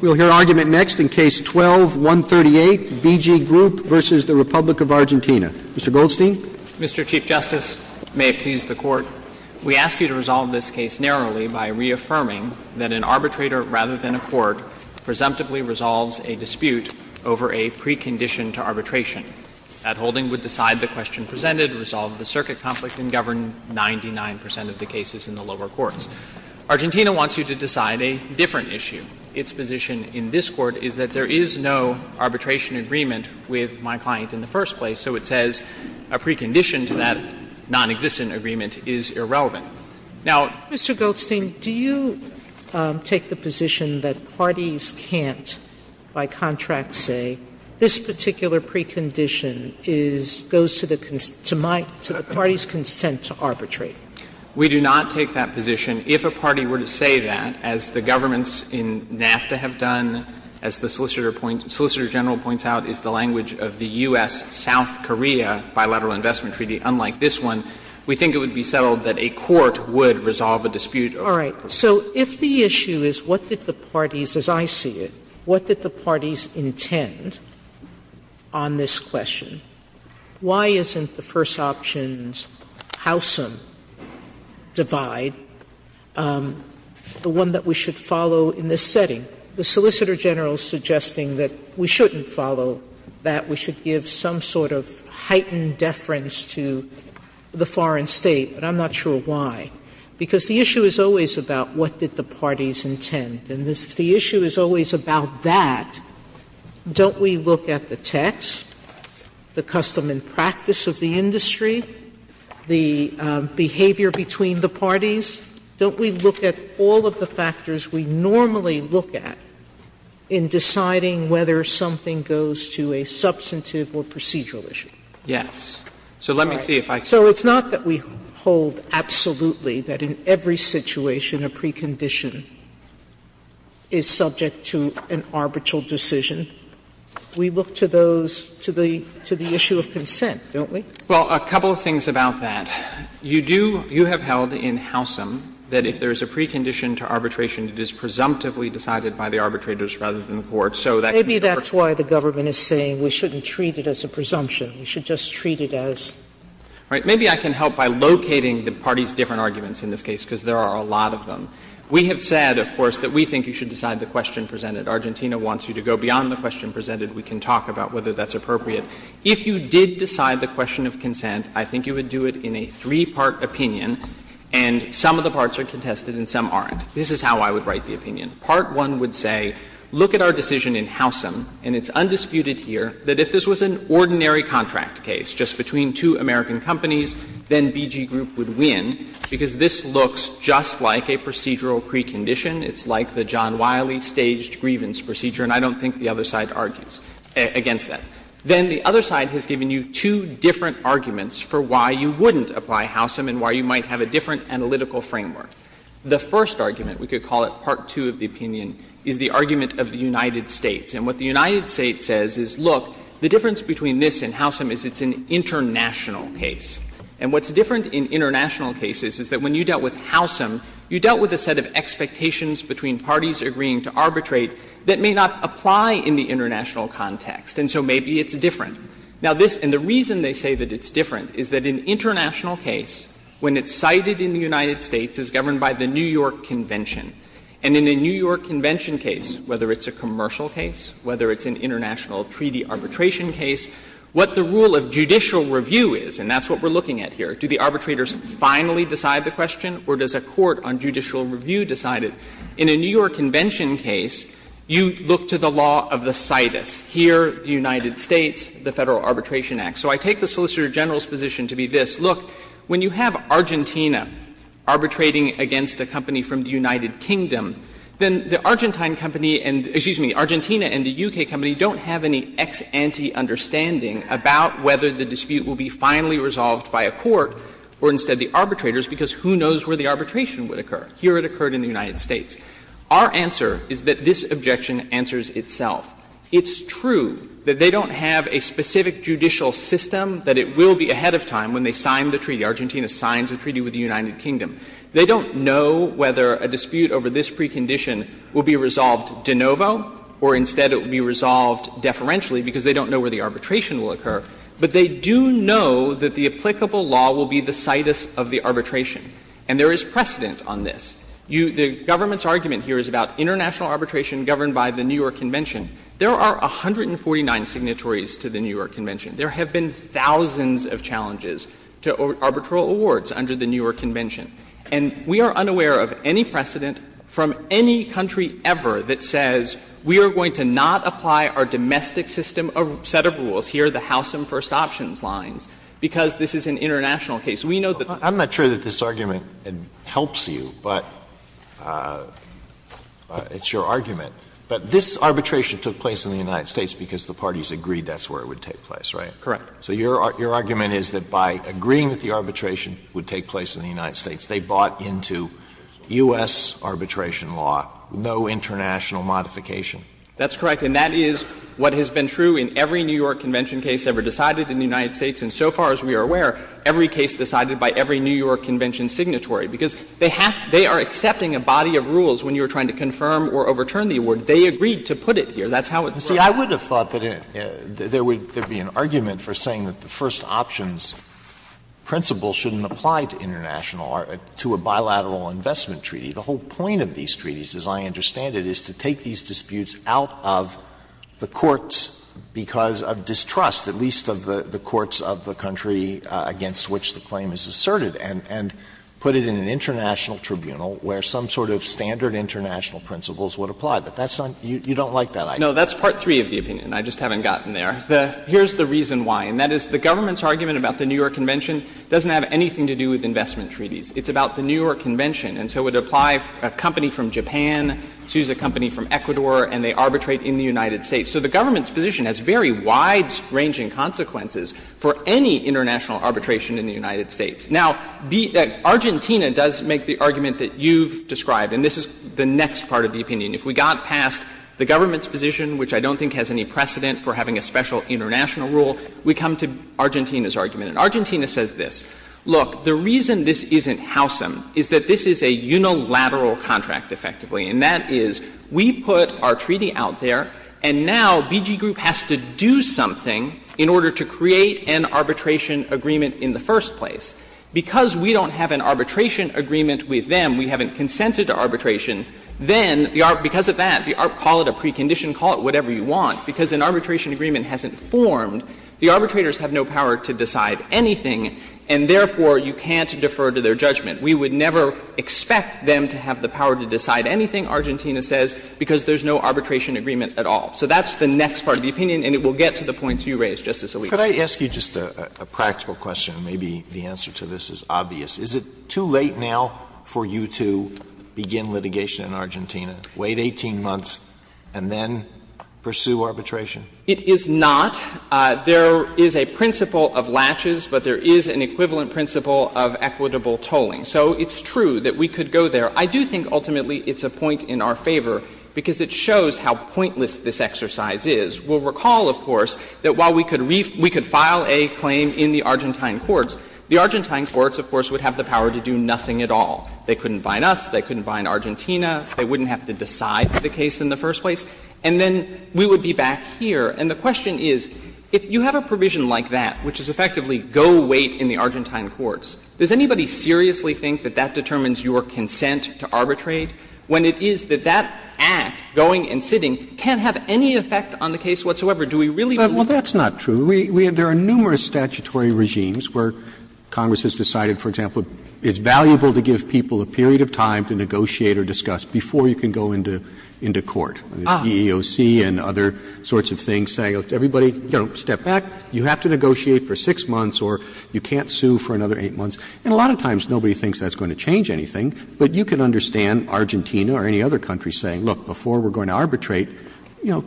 We'll hear argument next in Case 12-138, BG Group v. Republic of Argentina. Mr. Goldstein. Mr. Chief Justice, may it please the Court, we ask you to resolve this case narrowly by reaffirming that an arbitrator rather than a court presumptively resolves a dispute over a precondition to arbitration. That holding would decide the question presented, resolve the circuit conflict, and govern 99 percent of the cases in the lower courts. Argentina wants you to decide a different issue. Its position in this Court is that there is no arbitration agreement with my client in the first place, so it says a precondition to that nonexistent agreement is irrelevant. Now, Mr. Goldstein, do you take the position that parties can't, by contract say, this particular precondition is goes to the parties' consent to arbitrate? Goldstein, we do not take that position. If a party were to say that, as the governments in NAFTA have done, as the Solicitor General points out, is the language of the U.S.-South Korea bilateral investment treaty, unlike this one, we think it would be settled that a court would resolve a dispute over a precondition. Sotomayor, so if the issue is what did the parties, as I see it, what did the parties intend on this question, why isn't the first option's Howsam divide the one that we should follow in this setting? The Solicitor General is suggesting that we shouldn't follow that. We should give some sort of heightened deference to the foreign state, but I'm not sure why. Because the issue is always about what did the parties intend. And if the issue is always about that, don't we look at the text, the custom and practice of the industry, the behavior between the parties? Don't we look at all of the factors we normally look at in deciding whether something goes to a substantive or procedural issue? Goldstein, so let me see if I can. Sotomayor, it's not that we hold absolutely that in every situation a precondition is subject to an arbitral decision. We look to those, to the issue of consent, don't we? Well, a couple of things about that. You do, you have held in Howsam that if there is a precondition to arbitration, it is presumptively decided by the arbitrators rather than the courts, so that can be a part of it. Maybe that's why the government is saying we shouldn't treat it as a presumption. We should just treat it as. All right. Maybe I can help by locating the parties' different arguments in this case, because there are a lot of them. We have said, of course, that we think you should decide the question presented. Argentina wants you to go beyond the question presented. We can talk about whether that's appropriate. If you did decide the question of consent, I think you would do it in a three-part opinion, and some of the parts are contested and some aren't. This is how I would write the opinion. Part 1 would say, look at our decision in Howsam, and it's undisputed here that if this was an ordinary contract case just between two American companies, then BG Group would win, because this looks just like a procedural precondition. It's like the John Wiley staged grievance procedure, and I don't think the other side argues against that. Then the other side has given you two different arguments for why you wouldn't apply Howsam and why you might have a different analytical framework. The first argument, we could call it part 2 of the opinion, is the argument of the United States. And what the United States says is, look, the difference between this and Howsam is it's an international case. And what's different in international cases is that when you dealt with Howsam, you dealt with a set of expectations between parties agreeing to arbitrate that may not apply in the international context, and so maybe it's different. Now, this — and the reason they say that it's different is that an international case, when it's cited in the United States, is governed by the New York Convention. And in a New York Convention case, whether it's a commercial case, whether it's an international treaty arbitration case, what the rule of judicial review is, and that's what we're looking at here, do the arbitrators finally decide the question or does a court on judicial review decide it? In a New York Convention case, you look to the law of the citus. Here, the United States, the Federal Arbitration Act. So I take the Solicitor General's position to be this. Look, when you have Argentina arbitrating against a company from the United Kingdom, then the Argentine company and — excuse me, Argentina and the U.K. company don't have any ex ante understanding about whether the dispute will be finally resolved by a court or instead the arbitrators, because who knows where the arbitration would occur. Here it occurred in the United States. Our answer is that this objection answers itself. It's true that they don't have a specific judicial system that it will be ahead of time when they sign the treaty, Argentina signs a treaty with the United Kingdom. They don't know whether a dispute over this precondition will be resolved de novo or instead it will be resolved deferentially, because they don't know where the arbitration will occur. But they do know that the applicable law will be the citus of the arbitration. And there is precedent on this. The government's argument here is about international arbitration governed by the New York Convention. There are 149 signatories to the New York Convention. There have been thousands of challenges to arbitral awards under the New York Convention. And we are unaware of any precedent from any country ever that says we are going to not apply our domestic system or set of rules here, the House and First Options lines, because this is an international case. We know that the country is not going to do that. Alito, I'm not sure that this argument helps you, but it's your argument. But this arbitration took place in the United States because the parties agreed that's where it would take place, right? Correct. So your argument is that by agreeing that the arbitration would take place in the United States, they bought into U.S. arbitration law no international modification? That's correct. And that is what has been true in every New York Convention case ever decided in the United States. And so far as we are aware, every case decided by every New York Convention signatory, because they have to be accepting a body of rules when you are trying They agreed to put it here. That's how it works. See, I would have thought that there would be an argument for saying that the First Options principle shouldn't apply to international or to a bilateral investment treaty. The whole point of these treaties, as I understand it, is to take these disputes out of the courts because of distrust, at least of the courts of the country against which the claim is asserted, and put it in an international tribunal where some sort of standard international principles would apply. But that's not you don't like that idea. No, that's part three of the opinion. I just haven't gotten there. Here's the reason why, and that is the government's argument about the New York Convention doesn't have anything to do with investment treaties. It's about the New York Convention. And so it would apply for a company from Japan to use a company from Ecuador, and they arbitrate in the United States. So the government's position has very wide-ranging consequences for any international arbitration in the United States. Now, Argentina does make the argument that you've described, and this is the next part of the opinion. If we got past the government's position, which I don't think has any precedent for having a special international rule, we come to Argentina's argument. And Argentina says this. Look, the reason this isn't Howsam is that this is a unilateral contract, effectively, and that is we put our treaty out there, and now BG Group has to do something in order to create an arbitration agreement in the first place. Because we don't have an arbitration agreement with them, we haven't consented to arbitration, then because of that, call it a precondition, call it whatever you want, because an arbitration agreement hasn't formed, the arbitrators have no power to decide anything, and therefore you can't defer to their judgment. We would never expect them to have the power to decide anything, Argentina says, because there's no arbitration agreement at all. So that's the next part of the opinion, and it will get to the points you raised, Justice Alito. Alito, could I ask you just a practical question, and maybe the answer to this is obvious. Is it too late now for you to begin litigation in Argentina, wait 18 months, and then pursue arbitration? It is not. There is a principle of latches, but there is an equivalent principle of equitable tolling. So it's true that we could go there. I do think ultimately it's a point in our favor, because it shows how pointless this exercise is. We'll recall, of course, that while we could file a claim in the Argentine courts, the Argentine courts, of course, would have the power to do nothing at all. They couldn't fine us. They couldn't fine Argentina. They wouldn't have to decide the case in the first place. And then we would be back here. And the question is, if you have a provision like that, which is effectively go wait in the Argentine courts, does anybody seriously think that that determines your consent to arbitrate, when it is that that act, going and sitting, can't have any effect on the case whatsoever? Do we really believe that? Well, that's not true. There are numerous statutory regimes where Congress has decided, for example, it's valuable to give people a period of time to negotiate or discuss before you can go into court. The EEOC and other sorts of things say, let's everybody step back. You have to negotiate for 6 months or you can't sue for another 8 months. And a lot of times nobody thinks that's going to change anything, but you can understand Argentina or any other country saying, look, before we're going to arbitrate, you know,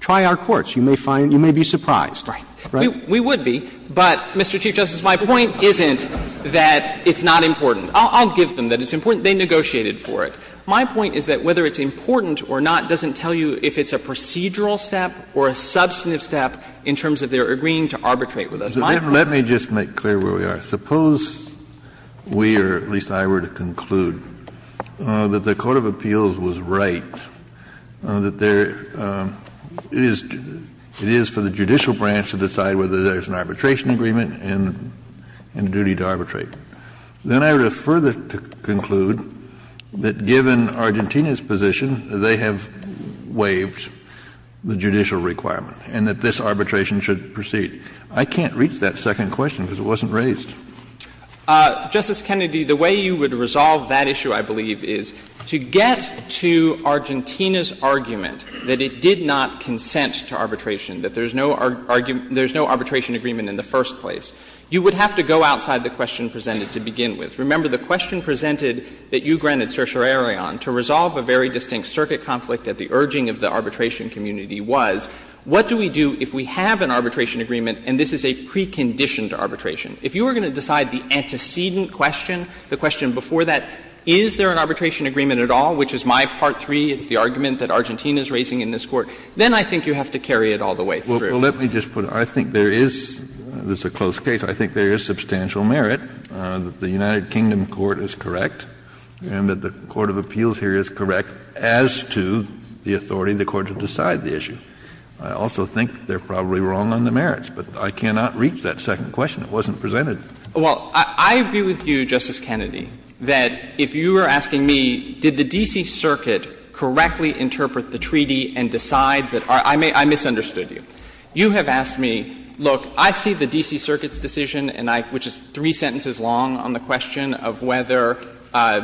try our courts. You may find you may be surprised. Right. We would be, but, Mr. Chief Justice, my point isn't that it's not important. I'll give them that it's important. They negotiated for it. My point is that whether it's important or not doesn't tell you if it's a procedural step or a substantive step in terms of their agreeing to arbitrate with us. My point is that it's not important. Kennedy, let me just make clear where we are. Suppose we, or at least I, were to conclude that the court of appeals was right, that there is, it is for the judicial branch to decide whether there's an arbitration agreement and a duty to arbitrate. Then I would have further to conclude that given Argentina's position, they have waived the judicial requirement and that this arbitration should proceed. I can't reach that second question because it wasn't raised. Justice Kennedy, the way you would resolve that issue, I believe, is to get to Argentina 's argument that it did not consent to arbitration, that there's no arbitration agreement in the first place. You would have to go outside the question presented to begin with. Remember the question presented that you granted certiorari on, to resolve a very distinct circuit conflict that the urging of the arbitration community was, what do we do if we have an arbitration agreement and this is a preconditioned arbitration? If you were going to decide the antecedent question, the question before that, is there an arbitration agreement at all, which is my part three, it's the argument that Argentina is raising in this Court, then I think you have to carry it all the way through. Kennedy, I think there is, this is a close case, I think there is substantial merit that the United Kingdom court is correct and that the court of appeals here is correct as to the authority of the court to decide the issue. I also think they're probably wrong on the merits, but I cannot reach that second question. It wasn't presented. Well, I agree with you, Justice Kennedy, that if you were asking me, did the D.C. Circuit correctly interpret the treaty and decide that, I misunderstood you. You have asked me, look, I see the D.C. Circuit's decision, and I, which is three sentences long on the question of whether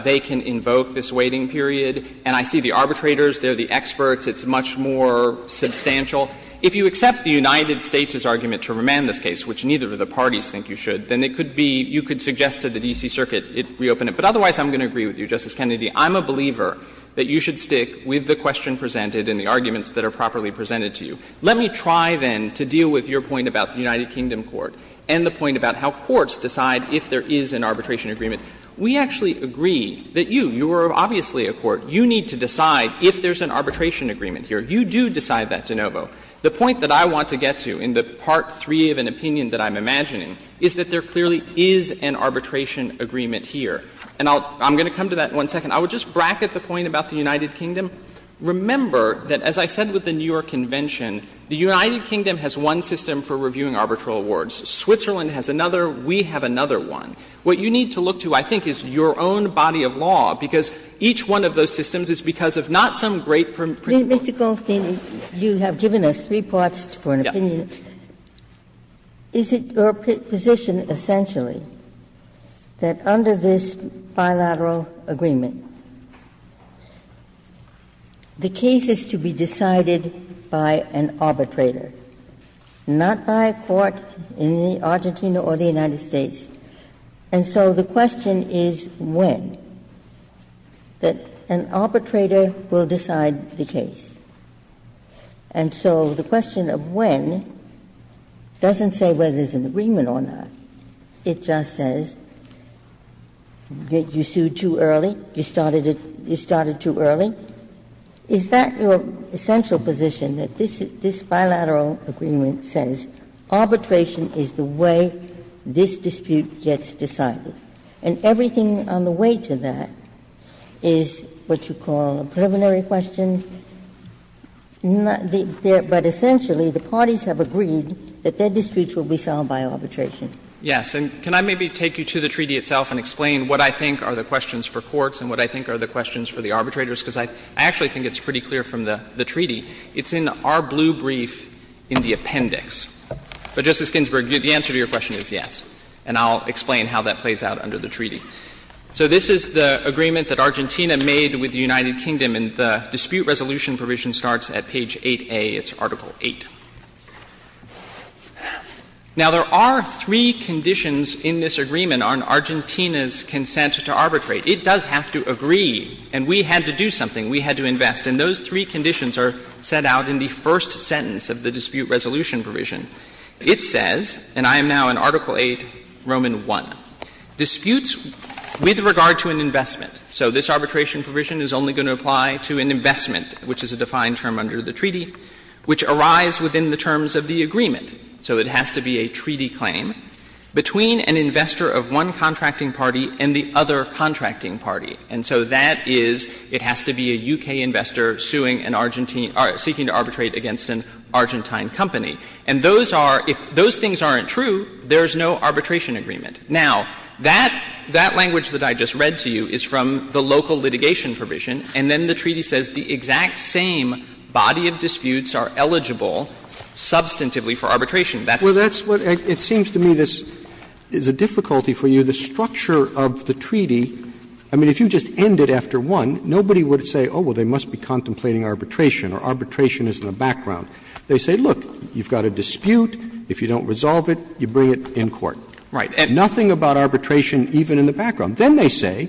they can invoke this waiting period, and I see the arbitrators, they're the experts, it's much more substantial. If you accept the United States' argument to remand this case, which neither of the two sides agree on, then it could be, you could suggest to the D.C. Circuit, reopen it. But otherwise, I'm going to agree with you, Justice Kennedy, I'm a believer that you should stick with the question presented and the arguments that are properly presented to you. Let me try, then, to deal with your point about the United Kingdom court and the point about how courts decide if there is an arbitration agreement. We actually agree that you, you are obviously a court, you need to decide if there's an arbitration agreement here. You do decide that, De Novo. The point that I want to get to in the part three of an opinion that I'm imagining is that there clearly is an arbitration agreement here. And I'll — I'm going to come to that in one second. I would just bracket the point about the United Kingdom. Remember that, as I said with the New York Convention, the United Kingdom has one system for reviewing arbitral awards. Switzerland has another. We have another one. What you need to look to, I think, is your own body of law, because each one of those systems is because of not some great principle. But, Mr. Goldstein, you have given us three parts for an opinion. Is it your position essentially that under this bilateral agreement, the case is to be decided by an arbitrator, not by a court in Argentina or the United States? And so the question is when, that an arbitrator will decide the case. And so the question of when doesn't say whether there's an agreement or not. It just says that you sued too early, you started too early. Is that your essential position, that this bilateral agreement says arbitration is the way this dispute gets decided? And everything on the way to that is what you call a preliminary question. But essentially, the parties have agreed that their disputes will be solved by arbitration. Goldstein, Yes. And can I maybe take you to the treaty itself and explain what I think are the questions for courts and what I think are the questions for the arbitrators? Because I actually think it's pretty clear from the treaty. It's in our blue brief in the appendix. But, Justice Ginsburg, the answer to your question is yes, and I'll explain how that plays out under the treaty. So this is the agreement that Argentina made with the United Kingdom, and the dispute resolution provision starts at page 8A. It's Article VIII. Now, there are three conditions in this agreement on Argentina's consent to arbitrate. It does have to agree, and we had to do something, we had to invest. And those three conditions are set out in the first sentence of the dispute resolution provision. It says, and I am now in Article VIII, Roman I, disputes with regard to an investment. So this arbitration provision is only going to apply to an investment, which is a defined term under the treaty, which arrives within the terms of the agreement. So it has to be a treaty claim between an investor of one contracting party and the other contracting party. And so that is, it has to be a U.K. investor suing an Argentine or seeking to arbitrate against an Argentine company. And those are, if those things aren't true, there is no arbitration agreement. Now, that language that I just read to you is from the local litigation provision, and then the treaty says the exact same body of disputes are eligible substantively for arbitration. That's what it is. Roberts. It seems to me this is a difficulty for you. The structure of the treaty, I mean, if you just end it after one, nobody would say, oh, well, they must be contemplating arbitration, or arbitration is in the background. They say, look, you've got a dispute, if you don't resolve it, you bring it in court. Nothing about arbitration even in the background. Then they say,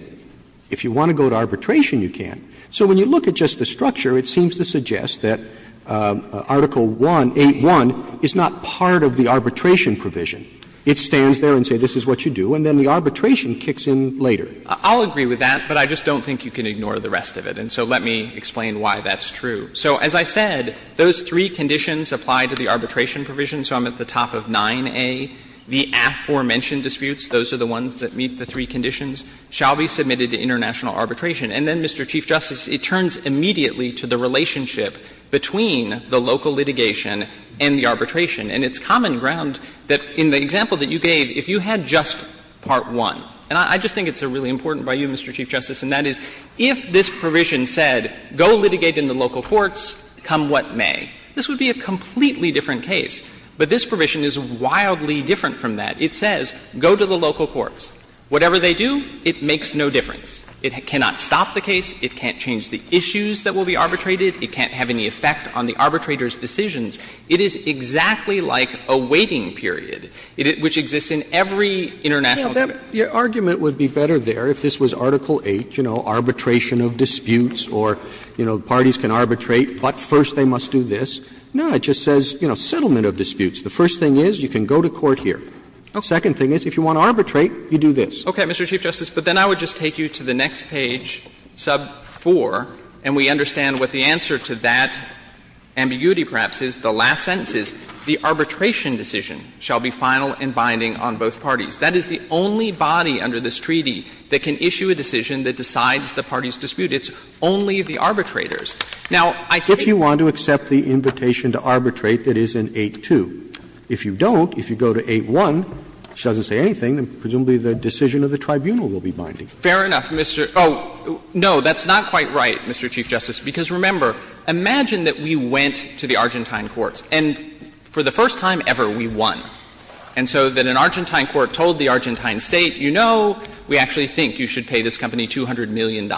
if you want to go to arbitration, you can. So when you look at just the structure, it seems to suggest that Article 1, 8.1, is not part of the arbitration provision. It stands there and says this is what you do, and then the arbitration kicks in later. I'll agree with that, but I just don't think you can ignore the rest of it. And so let me explain why that's true. So as I said, those three conditions apply to the arbitration provision. So I'm at the top of 9A. The aforementioned disputes, those are the ones that meet the three conditions, shall be submitted to international arbitration. And then, Mr. Chief Justice, it turns immediately to the relationship between the local litigation and the arbitration. And it's common ground that in the example that you gave, if you had just Part 1, and I just think it's really important by you, Mr. Chief Justice, and that is, if this was Article 8, you know, arbitration of disputes, or, you know, parties can arbitrate It would be a completely different case if the arbitration provision were to say, go to the local courts, come what may. This would be a completely different case. But this provision is wildly different from that. It says, go to the local courts. Whatever they do, it makes no difference. It cannot stop the case. It can't change the issues that will be arbitrated. It can't have any effect on the arbitrator's decisions. It is exactly like a waiting period, which exists in every international dispute. Roberts Your argument would be better there if this was Article 8, you know, arbitration of disputes, or, you know, parties can arbitrate, but first they must do this. No, it just says, you know, settlement of disputes. The first thing is, you can go to court here. The second thing is, if you want to arbitrate, you do this. Shanmugam Okay, Mr. Chief Justice, but then I would just take you to the next page, sub 4, and we understand what the answer to that ambiguity, perhaps, is, the last sentence is, the arbitration decision shall be final and binding on both parties. That is the only body under this treaty that can issue a decision that decides the party's dispute. Now, I take it that this is a case where the arbitrators are the only ones who can decide the parties' dispute. Roberts If you want to accept the invitation to arbitrate, that is in 8-2. If you don't, if you go to 8-1, which doesn't say anything, then presumably the decision of the tribunal will be binding. Shanmugam Fair enough, Mr. Oh, no, that's not quite right, Mr. Chief Justice, because, remember, imagine that we went to the Argentine courts, and for the first time ever we won. And so that an Argentine court told the Argentine State, you know, we actually think you should pay this company $200 million.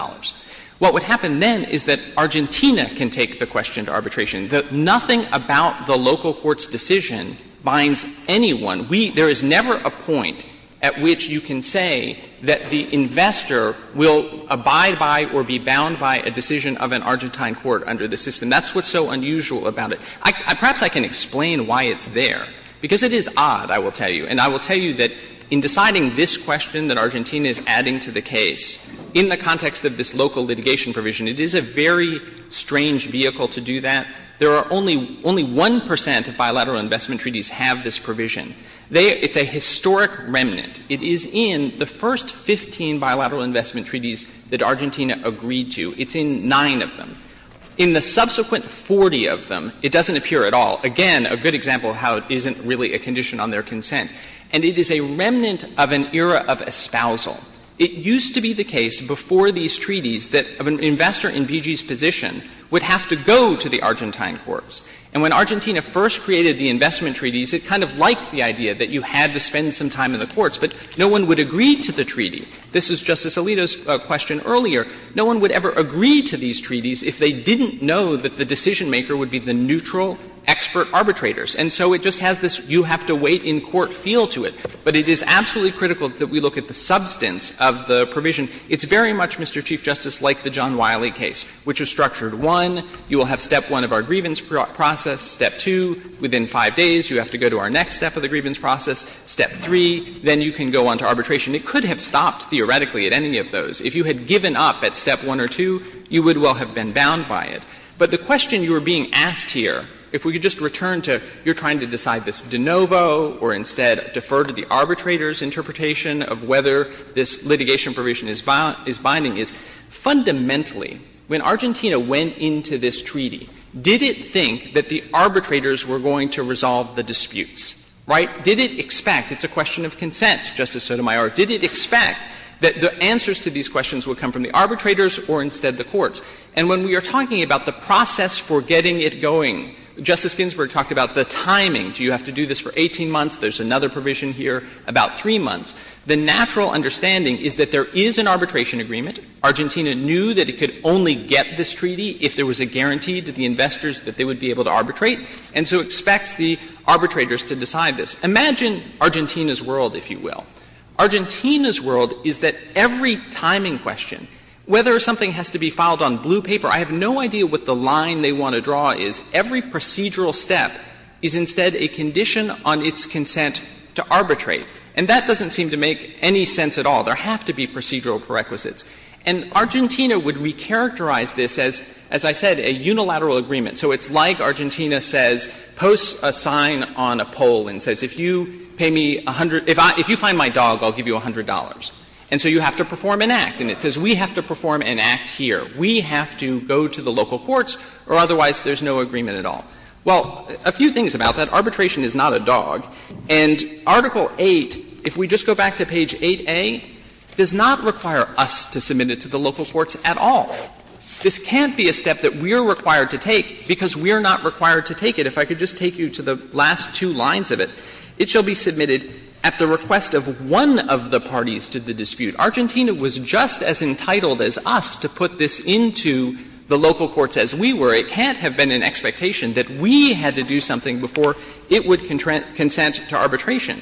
What would happen then is that Argentina can take the question to arbitration. Nothing about the local court's decision binds anyone. We — there is never a point at which you can say that the investor will abide by or be bound by a decision of an Argentine court under the system. That's what's so unusual about it. Perhaps I can explain why it's there, because it is odd, I will tell you. And I will tell you that in deciding this question that Argentina is adding to the case, in the context of this local litigation provision, it is a very strange vehicle to do that. There are only — only 1 percent of bilateral investment treaties have this provision. They — it's a historic remnant. It is in the first 15 bilateral investment treaties that Argentina agreed to. It's in nine of them. In the subsequent 40 of them, it doesn't appear at all. Again, a good example of how it isn't really a condition on their consent. And it is a remnant of an era of espousal. It used to be the case before these treaties that an investor in BG's position would have to go to the Argentine courts. And when Argentina first created the investment treaties, it kind of liked the idea that you had to spend some time in the courts, but no one would agree to the treaty. This is Justice Alito's question earlier. No one would ever agree to these treaties if they didn't know that the decision maker would be the neutral expert arbitrators. And so it just has this you-have-to-wait-in-court feel to it. But it is absolutely critical that we look at the substance of the provision. It's very much, Mr. Chief Justice, like the John Wiley case, which was structured one, you will have step one of our grievance process, step two, within five days you have to go to our next step of the grievance process, step three, then you can go on to arbitration. It could have stopped, theoretically, at any of those. If you had given up at step one or two, you would well have been bound by it. But the question you are being asked here, if we could just return to you're trying to decide this de novo or instead defer to the arbitrator's interpretation of whether this litigation provision is binding, is fundamentally, when Argentina went into this treaty, did it think that the arbitrators were going to resolve the disputes, right? Did it expect — it's a question of consent, Justice Sotomayor — did it expect that the answers to these questions would come from the arbitrators or instead the courts? And when we are talking about the process for getting it going, Justice Ginsburg talked about the timing. Do you have to do this for 18 months? There's another provision here about 3 months. The natural understanding is that there is an arbitration agreement. Argentina knew that it could only get this treaty if there was a guarantee to the investors that they would be able to arbitrate, and so expects the arbitrators to decide this. Imagine Argentina's world, if you will. Argentina's world is that every timing question, whether something has to be filed on blue paper, I have no idea what the line they want to draw is. Every procedural step is instead a condition on its consent to arbitrate. And that doesn't seem to make any sense at all. There have to be procedural prerequisites. And Argentina would recharacterize this as, as I said, a unilateral agreement. So it's like Argentina says, posts a sign on a pole and says, if you pay me $100 — if you find my dog, I'll give you $100, and so you have to perform an act. And it says we have to perform an act here. We have to go to the local courts or otherwise there's no agreement at all. Arbitration is not a dog. And Article 8, if we just go back to page 8a, does not require us to submit it to the local courts at all. This can't be a step that we are required to take because we are not required to take it. If I could just take you to the last two lines of it. It shall be submitted at the request of one of the parties to the dispute. Argentina was just as entitled as us to put this into the local courts as we were. It can't have been an expectation that we had to do something before it would consent to arbitration.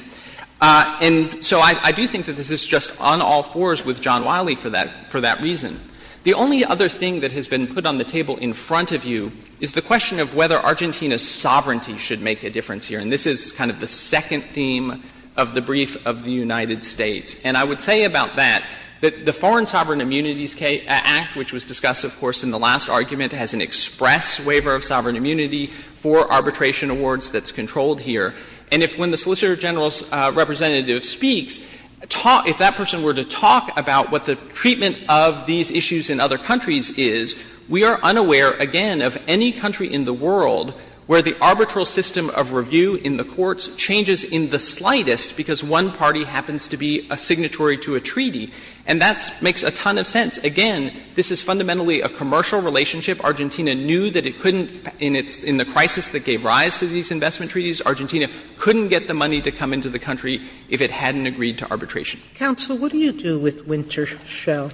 And so I do think that this is just on all fours with John Wiley for that reason. The only other thing that has been put on the table in front of you is the question of whether Argentina's sovereignty should make a difference here. And this is kind of the second theme of the brief of the United States. And I would say about that, that the Foreign Sovereign Immunities Act, which was discussed, of course, in the last argument, has an express waiver of sovereign immunity for arbitration awards that's controlled here. And if when the Solicitor General's representative speaks, if that person were to talk about what the treatment of these issues in other countries is, we are unaware, again, of any country in the world where the arbitral system of review in the courts changes in the slightest because one party happens to be a signatory to a treaty. And that makes a ton of sense. Again, this is fundamentally a commercial relationship. Argentina knew that it couldn't, in the crisis that gave rise to these investment treaties, Argentina couldn't get the money to come into the country if it hadn't agreed to arbitration. Sotomayor, what do you do with Wintershell?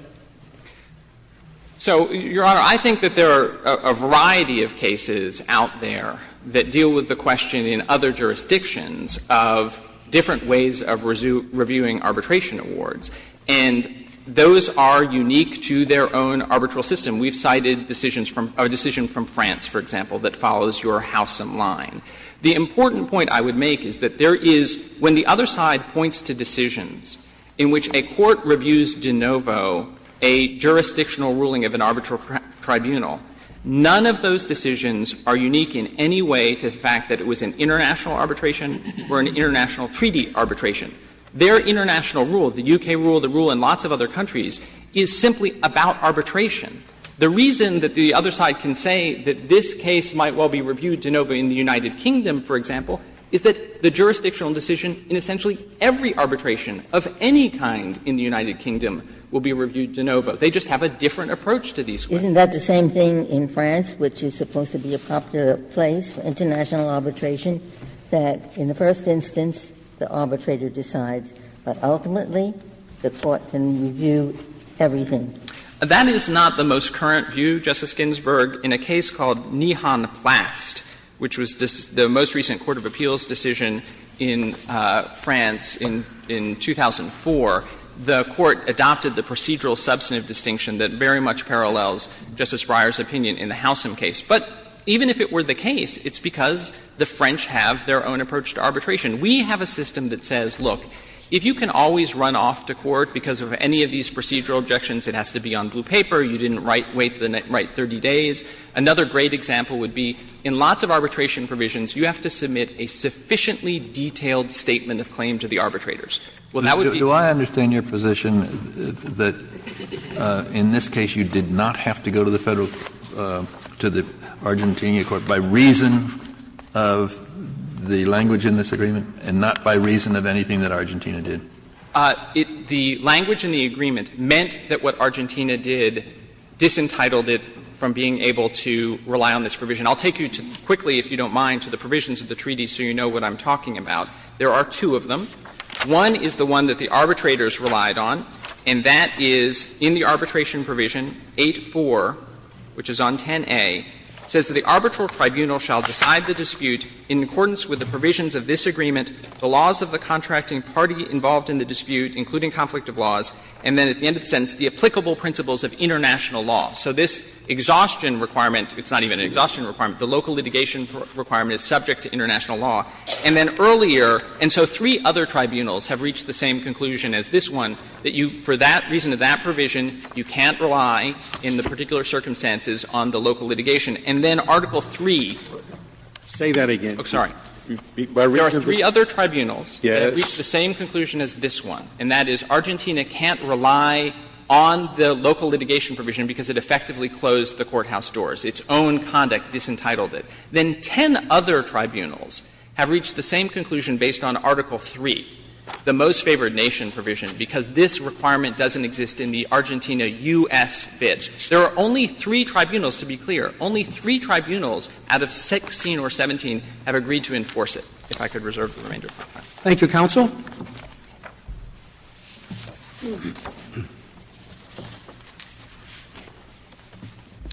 So, Your Honor, I think that there are a variety of cases out there that deal with the question in other jurisdictions of different ways of reviewing arbitration awards, and those are unique to their own arbitral system. We've cited decisions from France, for example, that follows your Howsam line. The important point I would make is that there is, when the other side points to decisions in which a court reviews de novo a jurisdictional ruling of an arbitral tribunal, none of those decisions are unique in any way to the fact that it was an international arbitration or an international treaty arbitration. Their international rule, the U.K. rule, the rule in lots of other countries, is simply about arbitration. The reason that the other side can say that this case might well be reviewed de novo in the United Kingdom, for example, is that the jurisdictional decision in essentially every arbitration of any kind in the United Kingdom will be reviewed de novo. They just have a different approach to these questions. Ginsburg. Isn't that the same thing in France, which is supposed to be a popular place for international arbitration, that in the first instance the arbitrator decides, but ultimately the court can review everything? That is not the most current view, Justice Ginsburg, in a case called Nijhan Plast, which was the most recent court of appeals decision in France in 2004. The court adopted the procedural substantive distinction that very much parallels Justice Breyer's opinion in the Housam case. But even if it were the case, it's because the French have their own approach to arbitration. We have a system that says, look, if you can always run off to court because of any of these procedural objections, it has to be on blue paper, you didn't write 30 days. Another great example would be in lots of arbitration provisions, you have to submit a sufficiently detailed statement of claim to the arbitrators. Well, that would be the case. Kennedy. Do I understand your position that in this case you did not have to go to the Federal to the Argentina court by reason of the language in this agreement and not by reason of anything that Argentina did? The language in the agreement meant that what Argentina did disentitled it from being able to rely on this provision. I'll take you quickly, if you don't mind, to the provisions of the treaty so you know what I'm talking about. There are two of them. One is the one that the arbitrators relied on, and that is in the arbitration provision, 8-4, which is on 10a, says that the arbitral tribunal shall decide the dispute in accordance with the provisions of this agreement, the laws of the contracting party involved in the dispute, including conflict of laws, and then at the end of the tribunal, the principles of international law. So this exhaustion requirement, it's not even an exhaustion requirement, the local litigation requirement is subject to international law. And then earlier, and so three other tribunals have reached the same conclusion as this one, that you, for that reason, that provision, you can't rely in the particular circumstances on the local litigation. And then Article III. Sotomayor, say that again. Oh, sorry. There are three other tribunals that have reached the same conclusion as this one, and that is Argentina can't rely on the local litigation provision because it effectively closed the courthouse doors. Its own conduct disentitled it. Then 10 other tribunals have reached the same conclusion based on Article III, the most favored nation provision, because this requirement doesn't exist in the Argentina-U.S. bids. There are only three tribunals, to be clear. Only three tribunals out of 16 or 17 have agreed to enforce it, if I could reserve the remainder of my time. Thank you, counsel.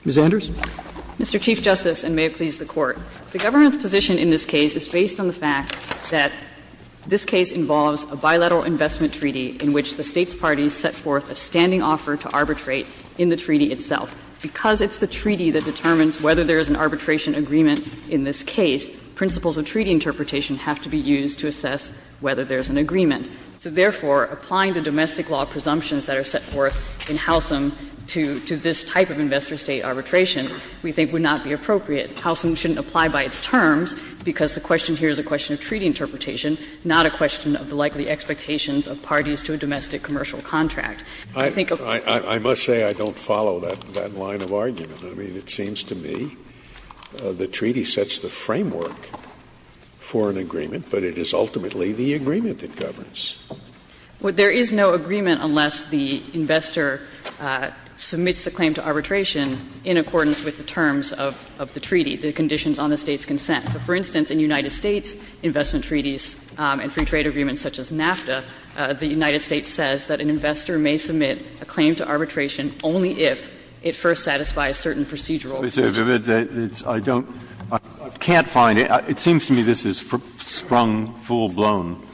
Ms. Anders. Mr. Chief Justice, and may it please the Court. The government's position in this case is based on the fact that this case involves a bilateral investment treaty in which the State's parties set forth a standing offer to arbitrate in the treaty itself. Because it's the treaty that determines whether there is an arbitration agreement in this case, principles of treaty interpretation have to be used to assess whether there is an agreement. So, therefore, applying the domestic law presumptions that are set forth in Housum to this type of investor-State arbitration we think would not be appropriate. Housum shouldn't apply by its terms, because the question here is a question of treaty interpretation, not a question of the likely expectations of parties to a domestic commercial contract. I think a— Scalia. I must say I don't follow that line of argument. I mean, it seems to me the treaty sets the framework for an agreement, but it is ultimately the agreement that governs. Well, there is no agreement unless the investor submits the claim to arbitration in accordance with the terms of the treaty, the conditions on the State's consent. So, for instance, in United States investment treaties and free trade agreements such as NAFTA, the United States says that an investor may submit a claim to arbitration only if it first satisfies certain procedural conditions. Breyer. I can't find it. It seems to me this is sprung full-blown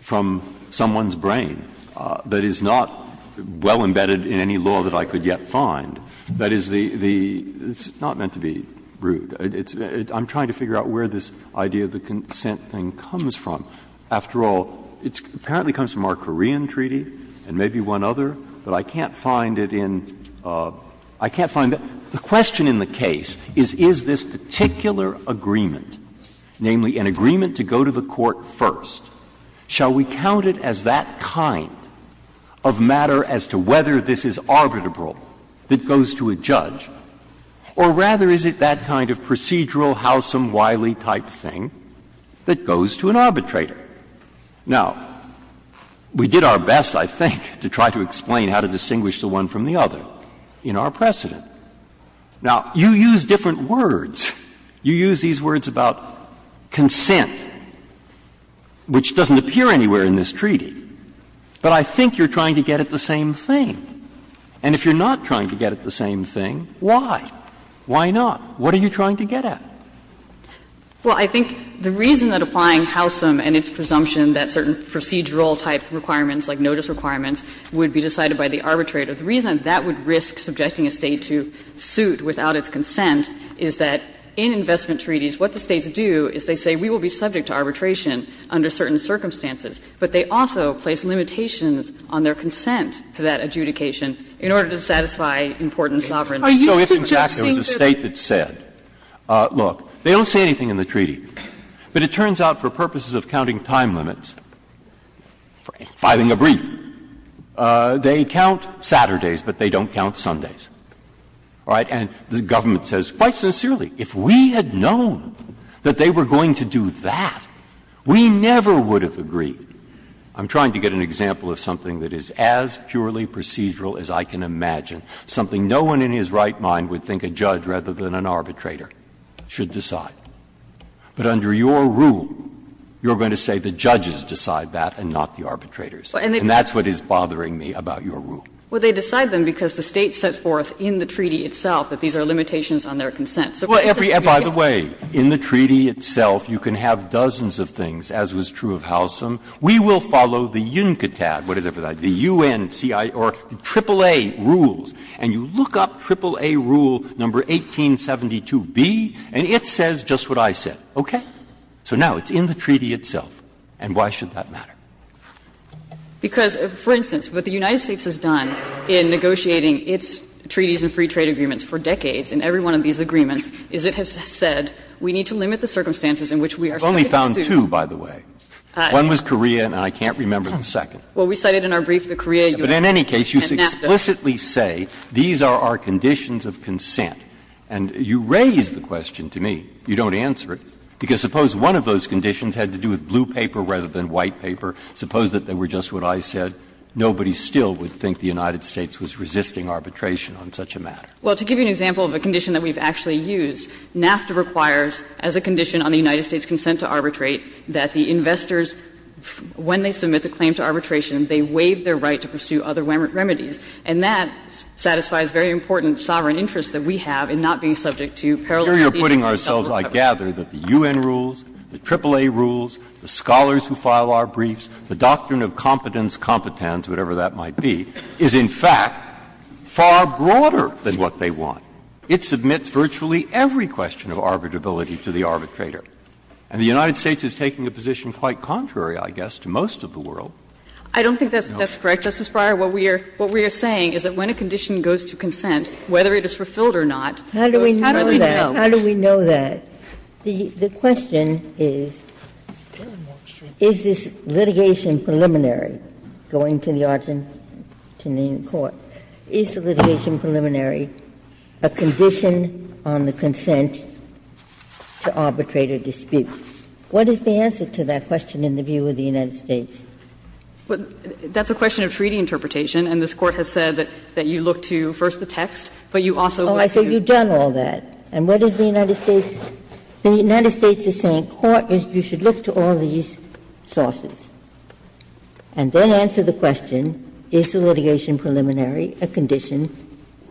from someone's brain that is not well-embedded in any law that I could yet find, that is the — it's not meant to be rude. I'm trying to figure out where this idea of the consent thing comes from. After all, it apparently comes from our Korean treaty and maybe one other, but I can't find it in — I can't find it. The question in the case is, is this particular agreement, namely an agreement to go to the court first, shall we count it as that kind of matter as to whether this is arbitrable that goes to a judge, or rather is it that kind of procedural, howsome, wily type thing that goes to an arbitrator? Now, we did our best, I think, to try to explain how to distinguish the one from the other in our precedent. Now, you use different words. You use these words about consent, which doesn't appear anywhere in this treaty. But I think you're trying to get at the same thing. And if you're not trying to get at the same thing, why? Why not? What are you trying to get at? Well, I think the reason that applying howsome and its presumption that certain procedural-type requirements, like notice requirements, would be decided by the arbitrator, the reason that would risk subjecting a State to suit without its consent is that in investment treaties what the States do is they say we will be subject to arbitration under certain circumstances. But they also place limitations on their consent to that adjudication in order to satisfy important sovereignty. So if, in fact, there was a State that said, look, they don't say anything in the treaty, but it turns out for purposes of counting time limits, filing a brief, they count Saturdays, but they don't count Sundays, all right, and the government says, quite sincerely, if we had known that they were going to do that, we never would have agreed. I'm trying to get an example of something that is as purely procedural as I can imagine, something no one in his right mind would think a judge, rather than an arbitrator, should decide. But under your rule, you're going to say the judges decide that and not the arbitrators. And that's what is bothering me about your rule. Well, they decide them because the State set forth in the treaty itself that these are limitations on their consent. So if it's a treaty that you can't do that, you can't do that. By the way, in the treaty itself you can have dozens of things, as was true of howsome. We will follow the UNCTAD, whatever that is, the U.N.C.I. or AAA rules, and you look up AAA rule number 1872b, and it says just what I said, okay? So now it's in the treaty itself, and why should that matter? Because, for instance, what the United States has done in negotiating its treaties and free trade agreements for decades in every one of these agreements is it has said We've only found two, by the way. One was Korea, and I can't remember the second. Well, we cited in our brief the Korea U.N.C.I. and NAFTA. But in any case, you explicitly say these are our conditions of consent. And you raise the question to me. You don't answer it. Because suppose one of those conditions had to do with blue paper rather than white paper. Suppose that they were just what I said. Nobody still would think the United States was resisting arbitration on such a matter. Well, to give you an example of a condition that we've actually used, NAFTA requires as a condition on the United States' consent to arbitrate that the investors, when they submit the claim to arbitration, they waive their right to pursue other remedies. And that satisfies very important sovereign interests that we have in not being subject to parallel treaties and government coverage. Breyer's I gather that the U.N. rules, the AAA rules, the scholars who file our briefs, the doctrine of competence, competence, whatever that might be, is, in fact, far broader than what they want. It submits virtually every question of arbitrability to the arbitrator. And the United States is taking a position quite contrary, I guess, to most of the world. I don't think that's correct, Justice Breyer. What we are saying is that when a condition goes to consent, whether it is fulfilled or not, it goes further down. Ginsburg. How do we know that? The question is, is this litigation preliminary, going to the Argentinean court, is the litigation preliminary a condition on the consent to arbitrate a dispute? What is the answer to that question in the view of the United States? That's a question of treaty interpretation, and this Court has said that you look to first the text, but you also look to the text. Oh, I say you've done all that. And what is the United States the United States is saying, you should look to all these sources, and then answer the question, is the litigation preliminary a condition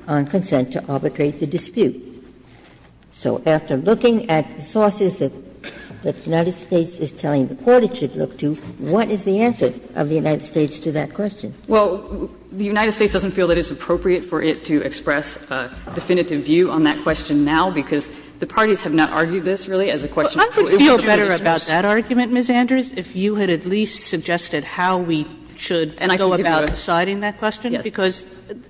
on consent to arbitrate the dispute? So after looking at the sources that the United States is telling the Court it should look to, what is the answer of the United States to that question? Well, the United States doesn't feel that it's appropriate for it to express a definitive view on that question now, because the parties have not argued this, really, as a question of treaty interpretation. And I would feel better about that argument, Ms. Andrews, if you had at least suggested how we should go about deciding that question, because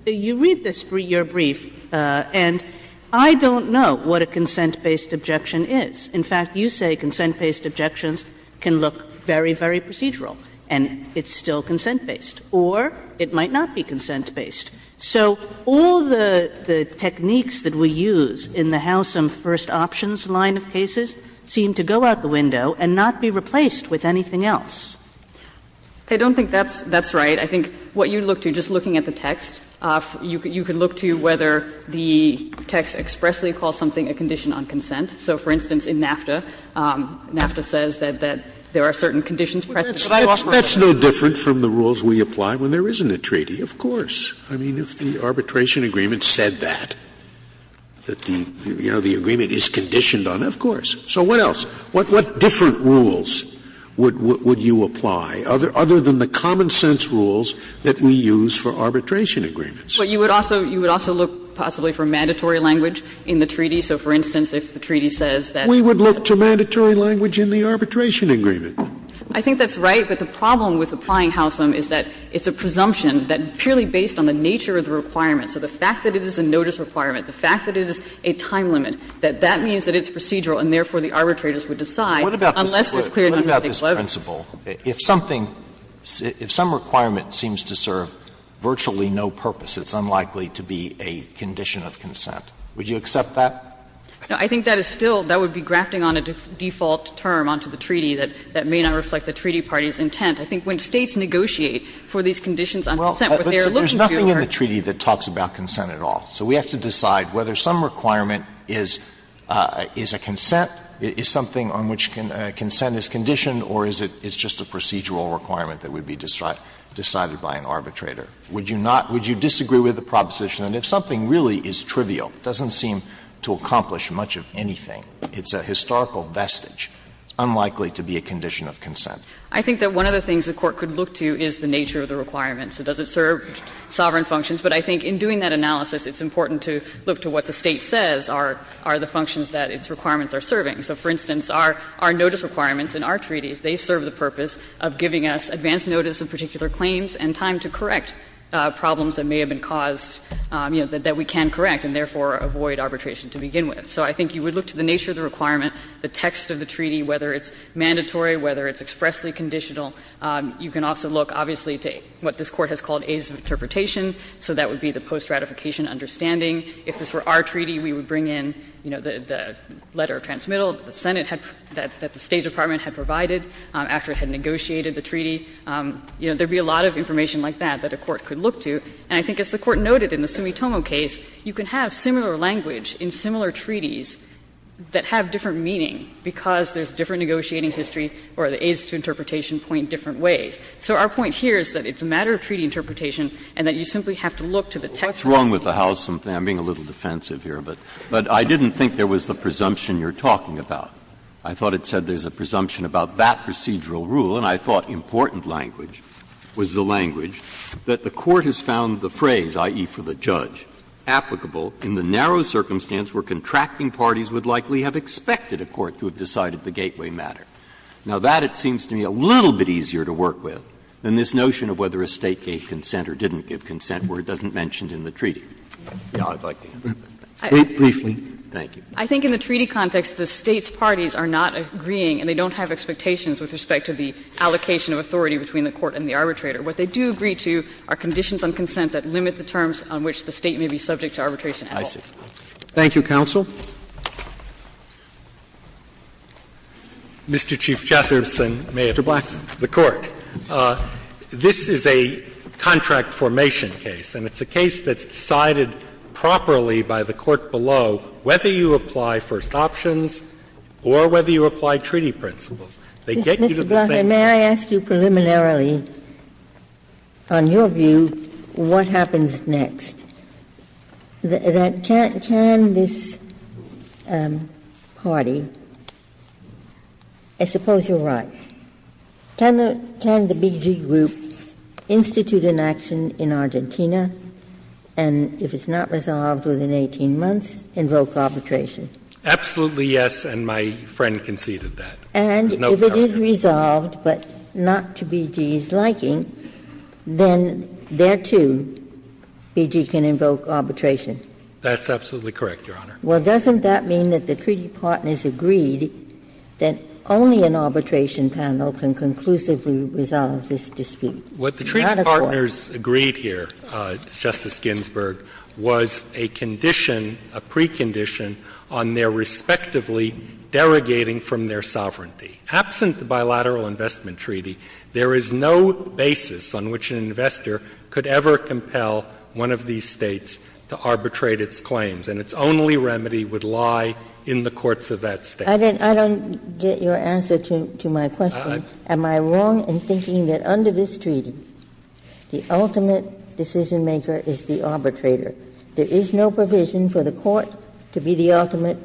you read this for your brief, and I don't know what a consent-based objection is. In fact, you say consent-based objections can look very, very procedural, and it's still consent-based, or it might not be consent-based. So all the techniques that we use in the Howsam first options line of cases seem to go out the window and not be replaced with anything else. I don't think that's right. I think what you look to, just looking at the text, you can look to whether the text expressly calls something a condition on consent. So, for instance, in NAFTA, NAFTA says that there are certain conditions present. Scalia, but I offer my opinion. Scalia, that's no different from the rules we apply when there isn't a treaty. Of course. I mean, if the arbitration agreement said that, that the, you know, the agreement is conditioned on it, of course. So what else? What different rules would you apply, other than the common-sense rules that we use for arbitration agreements? Well, you would also look possibly for mandatory language in the treaty. So, for instance, if the treaty says that we would look to mandatory language in the arbitration agreement. I think that's right, but the problem with applying Howsam is that it's a presumption that purely based on the nature of the requirement, so the fact that it is a notice requirement, the fact that it is a time limit, that that means that it's procedural and, therefore, the arbitrators would decide unless it's cleared under the 11th. Alito, what about this principle? If something, if some requirement seems to serve virtually no purpose, it's unlikely to be a condition of consent. Would you accept that? No. I think that is still, that would be grafting on a default term onto the treaty that may not reflect the treaty party's intent. I think when States negotiate for these conditions on consent, what they are looking to do are. Well, there's nothing in the treaty that talks about consent at all. So we have to decide whether some requirement is a consent, is something on which consent is conditioned, or is it just a procedural requirement that would be decided by an arbitrator. Would you not, would you disagree with the proposition that if something really is trivial, doesn't seem to accomplish much of anything, it's a historical vestige, unlikely to be a condition of consent? I think that one of the things the Court could look to is the nature of the requirement. So does it serve sovereign functions? But I think in doing that analysis, it's important to look to what the State says are the functions that its requirements are serving. So, for instance, our notice requirements in our treaties, they serve the purpose of giving us advance notice of particular claims and time to correct problems that may have been caused, you know, that we can correct and therefore avoid arbitration to begin with. So I think you would look to the nature of the requirement, the text of the treaty, whether it's mandatory, whether it's expressly conditional. You can also look, obviously, to what this Court has called aides of interpretation so that would be the post-ratification understanding. If this were our treaty, we would bring in, you know, the letter of transmittal that the Senate had, that the State Department had provided after it had negotiated the treaty. You know, there would be a lot of information like that that a court could look to. And I think as the Court noted in the Sumitomo case, you can have similar language in similar treaties that have different meaning because there's different negotiating history or the aides to interpretation point different ways. So our point here is that it's a matter of treaty interpretation and that you simply have to look to the text of the treaty. Breyer. What's wrong with the House? I'm being a little defensive here, but I didn't think there was the presumption you're talking about. I thought it said there's a presumption about that procedural rule, and I thought important language was the language that the Court has found the phrase, i.e., for the judge, applicable in the narrow circumstance where contracting parties would likely have expected a court to have decided the gateway matter. Now, that, it seems to me, a little bit easier to work with than this notion of whether a State gave consent or didn't give consent where it doesn't mention it in the treaty. I'd like to answer that. Breyer. Briefly. Thank you. I think in the treaty context, the State's parties are not agreeing and they don't have expectations with respect to the allocation of authority between the court and the arbitrator. What they do agree to are conditions on consent that limit the terms on which the State may be subject to arbitration at all. I see. Thank you, counsel. Mr. Chief Justice, and may it please the Court. This is a contract formation case, and it's a case that's decided properly by the court below whether you apply first options or whether you apply treaty principles. They get you to the same point. Ms. Blattman, may I ask you preliminarily, on your view, what happens next? Can this party, I suppose you're right, can the BG group institute an action in Argentina and, if it's not resolved within 18 months, invoke arbitration? Absolutely, yes, and my friend conceded that. And if it is resolved, but not to BG's liking, then there, too, BG can invoke arbitration. That's absolutely correct, Your Honor. Well, doesn't that mean that the treaty partners agreed that only an arbitration panel can conclusively resolve this dispute? What the treaty partners agreed here, Justice Ginsburg, was a condition, a precondition on their respectively derogating from their sovereignty. Absent the bilateral investment treaty, there is no basis on which an investor could ever compel one of these States to arbitrate its claims, and its only remedy would lie in the courts of that State. I don't get your answer to my question. Am I wrong in thinking that under this treaty, the ultimate decision-maker is the arbitrator? There is no provision for the Court to be the ultimate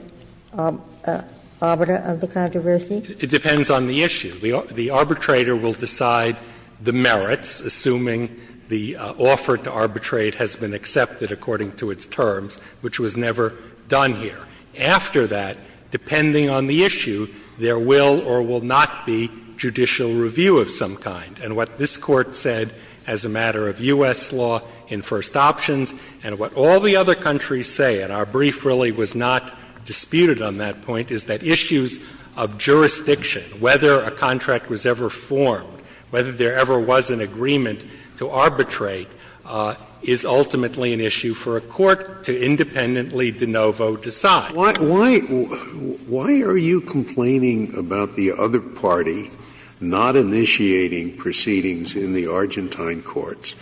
arbiter of the controversy? It depends on the issue. The arbitrator will decide the merits, assuming the offer to arbitrate has been accepted according to its terms, which was never done here. After that, depending on the issue, there will or will not be judicial review of some And what this Court said as a matter of U.S. law in first options, and what all the other countries say, and our brief really was not disputed on that point, is that issues of jurisdiction, whether a contract was ever formed, whether there ever was an agreement to arbitrate, is ultimately an issue for a court to independently de novo decide. Scalia, why are you complaining about the other party not initiating proceedings in the Argentine courts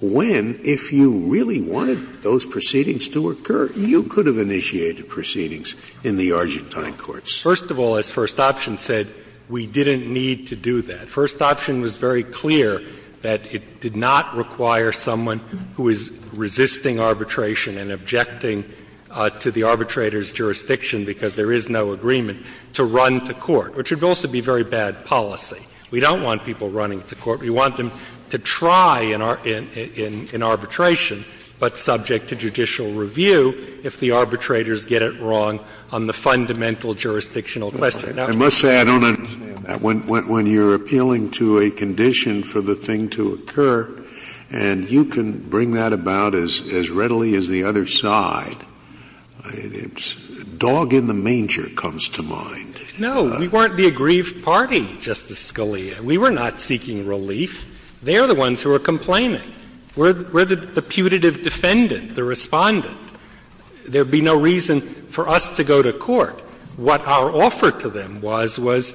when, if you really wanted those proceedings to occur, you could have initiated proceedings in the Argentine courts? First of all, as first option said, we didn't need to do that. First option was very clear that it did not require someone who is resisting arbitration and objecting to the arbitrator's jurisdiction because there is no agreement, to run to court, which would also be very bad policy. We don't want people running to court. We want them to try in arbitration, but subject to judicial review, if the arbitrators get it wrong on the fundamental jurisdictional question. Scalia, I must say, I don't understand when you're appealing to a condition for the thing to occur, and you can bring that about as readily as the other side. It's dog in the manger comes to mind. No, we weren't the aggrieved party, Justice Scalia. We were not seeking relief. They are the ones who are complaining. We're the putative defendant, the Respondent. There would be no reason for us to go to court. What our offer to them was, was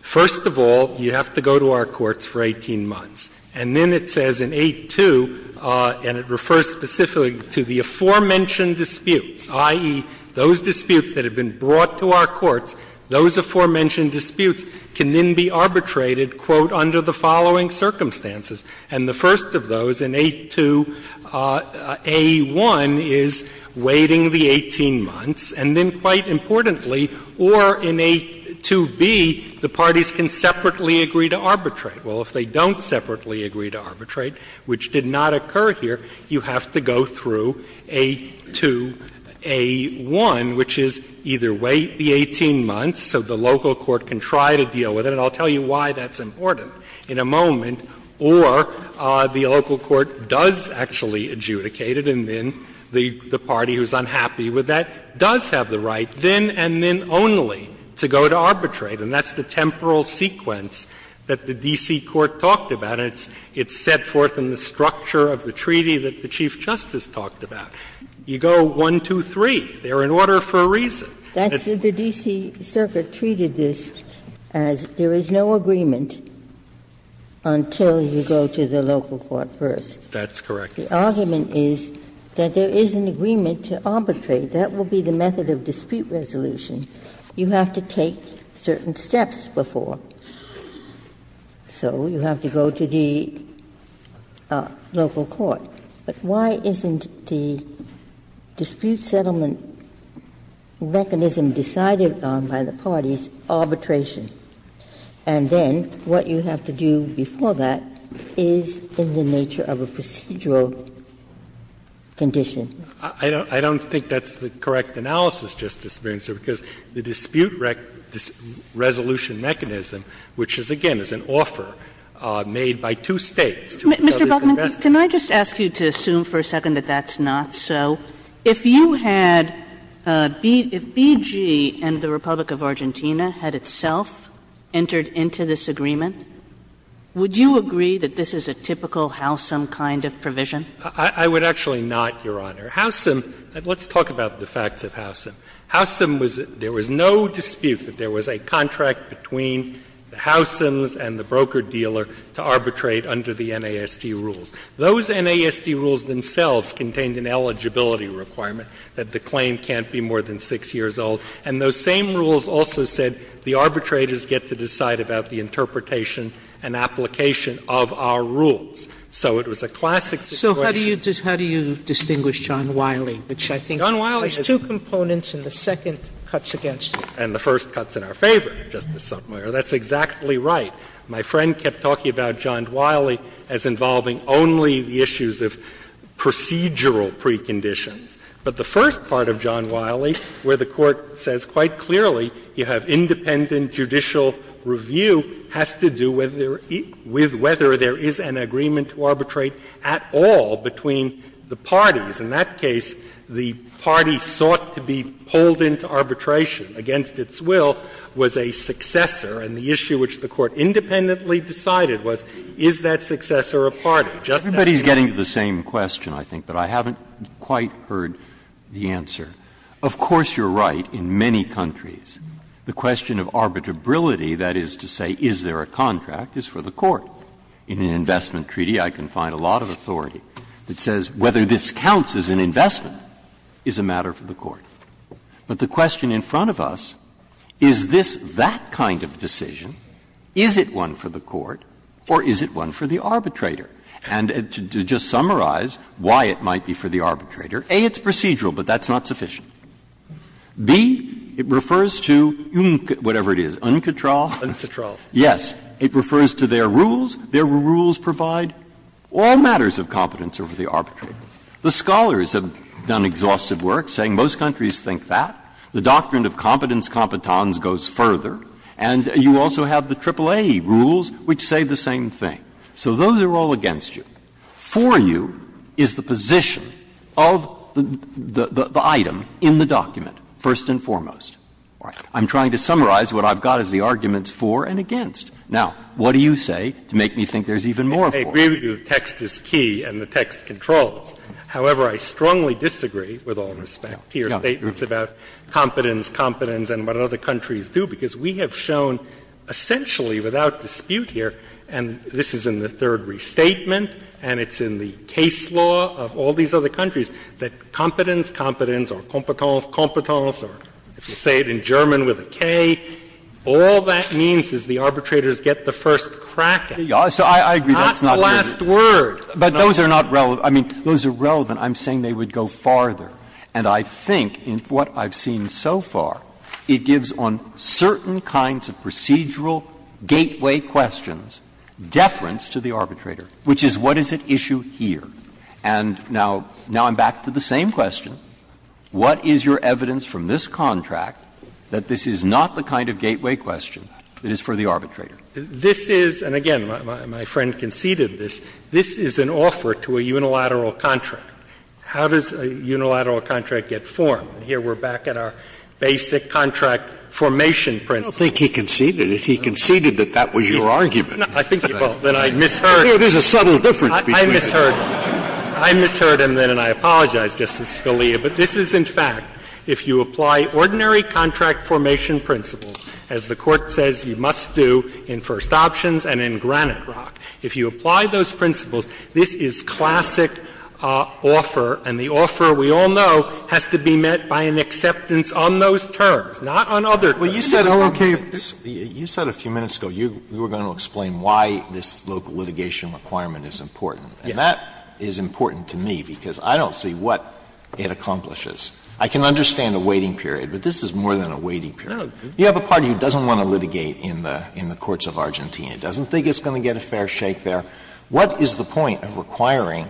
first of all, you have to go to our courts for 18 months. And then it says in 8-2, and it refers specifically to the aforementioned disputes, i.e., those disputes that have been brought to our courts, those aforementioned disputes can then be arbitrated, quote, under the following circumstances. And the first of those in 8-2, A-1 is waiting the 18 months, and then quite simply and quite importantly, or in 8-2B, the parties can separately agree to arbitrate. Well, if they don't separately agree to arbitrate, which did not occur here, you have to go through 8-2A-1, which is either wait the 18 months so the local court can try to deal with it, and I'll tell you why that's important in a moment, or the local court does actually adjudicate it, and then the party who's unhappy with that does have the right, then and then only, to go to arbitrate. And that's the temporal sequence that the D.C. Court talked about, and it's set forth in the structure of the treaty that the Chief Justice talked about. You go 1, 2, 3, they're in order for a reason. Ginsburg. The D.C. Circuit treated this as there is no agreement until you go to the local court first. That's correct. The argument is that there is an agreement to arbitrate. That will be the method of dispute resolution. You have to take certain steps before. So you have to go to the local court. But why isn't the dispute settlement mechanism decided on by the parties arbitration? And then what you have to do before that is in the nature of a procedural condition. I don't think that's the correct analysis, Justice Ginsburg, because the dispute resolution mechanism, which is, again, is an offer made by two States to each other's investment. Kagan. Can I just ask you to assume for a second that that's not so? If you had BG and the Republic of Argentina had itself entered into this agreement, would you agree that this is a typical, howsome kind of provision? I would actually not, Your Honor. Howsome, let's talk about the facts of howsome. Howsome was — there was no dispute that there was a contract between the howsomes and the broker-dealer to arbitrate under the NASD rules. Those NASD rules themselves contained an eligibility requirement that the claim can't be more than 6 years old. And those same rules also said the arbitrators get to decide about the interpretation and application of our rules. So it was a classic situation. Sotomayor, so how do you distinguish John Wiley, which I think has two components and the second cuts against it? And the first cuts in our favor, Justice Sotomayor. That's exactly right. My friend kept talking about John Wiley as involving only the issues of procedural preconditions. But the first part of John Wiley, where the Court says quite clearly you have independent judicial review has to do with whether there is an agreement to arbitrate at all between the parties. In that case, the party sought to be pulled into arbitration against its will was a successor, and the issue which the Court independently decided was, is that successor a party? Just that. Breyer. Everybody's getting to the same question, I think, but I haven't quite heard the answer. Of course, you're right, in many countries, the question of arbitrability, that is to say, is there a contract, is for the Court. In an investment treaty, I can find a lot of authority that says whether this counts as an investment is a matter for the Court. But the question in front of us, is this that kind of decision, is it one for the Court or is it one for the arbitrator? And to just summarize why it might be for the arbitrator, A, it's procedural, but that's not sufficient. B, it refers to whatever it is, uncontrol. Breyer. Yes. It refers to their rules. Their rules provide all matters of competence over the arbitrator. The scholars have done exhaustive work saying most countries think that. The doctrine of competence competence goes further. And you also have the AAA rules which say the same thing. So those are all against you. For you is the position of the item in the document, first and foremost. I'm trying to summarize what I've got as the arguments for and against. Now, what do you say to make me think there's even more for you? I agree with you the text is key and the text controls. However, I strongly disagree with all respect to your statements about competence, competence, and what other countries do, because we have shown essentially without dispute here, and this is in the third restatement and it's in the case law of all these other countries, that competence, competence, or competence, competence, or if you say it in German with a K, all that means is the arbitrators get the first crack at it. Breyer. So I agree that's not relevant. Not the last word. But those are not relevant. I mean, those are relevant. I'm saying they would go farther. And I think in what I've seen so far, it gives on certain kinds of procedural gateway questions, deference to the arbitrator, which is what is at issue here. And now I'm back to the same question. What is your evidence from this contract that this is not the kind of gateway question that is for the arbitrator? This is, and again, my friend conceded this, this is an offer to a unilateral contract. How does a unilateral contract get formed? Here we're back at our basic contract formation principle. Scalia, I don't think he conceded it. He conceded that that was your argument. I think you both and I misheard him. There's a subtle difference between the two. I misheard him then and I apologize, Justice Scalia. But this is in fact, if you apply ordinary contract formation principles, as the Court says you must do in First Options and in Granite Rock, if you apply those principles, this is classic offer, and the offer, we all know, has to be met by an acceptance on those terms, not on other terms. Alito, you said a few minutes ago you were going to explain why this local litigation requirement is important. And that is important to me because I don't see what it accomplishes. I can understand a waiting period, but this is more than a waiting period. You have a party who doesn't want to litigate in the courts of Argentina, doesn't think it's going to get a fair shake there. What is the point of requiring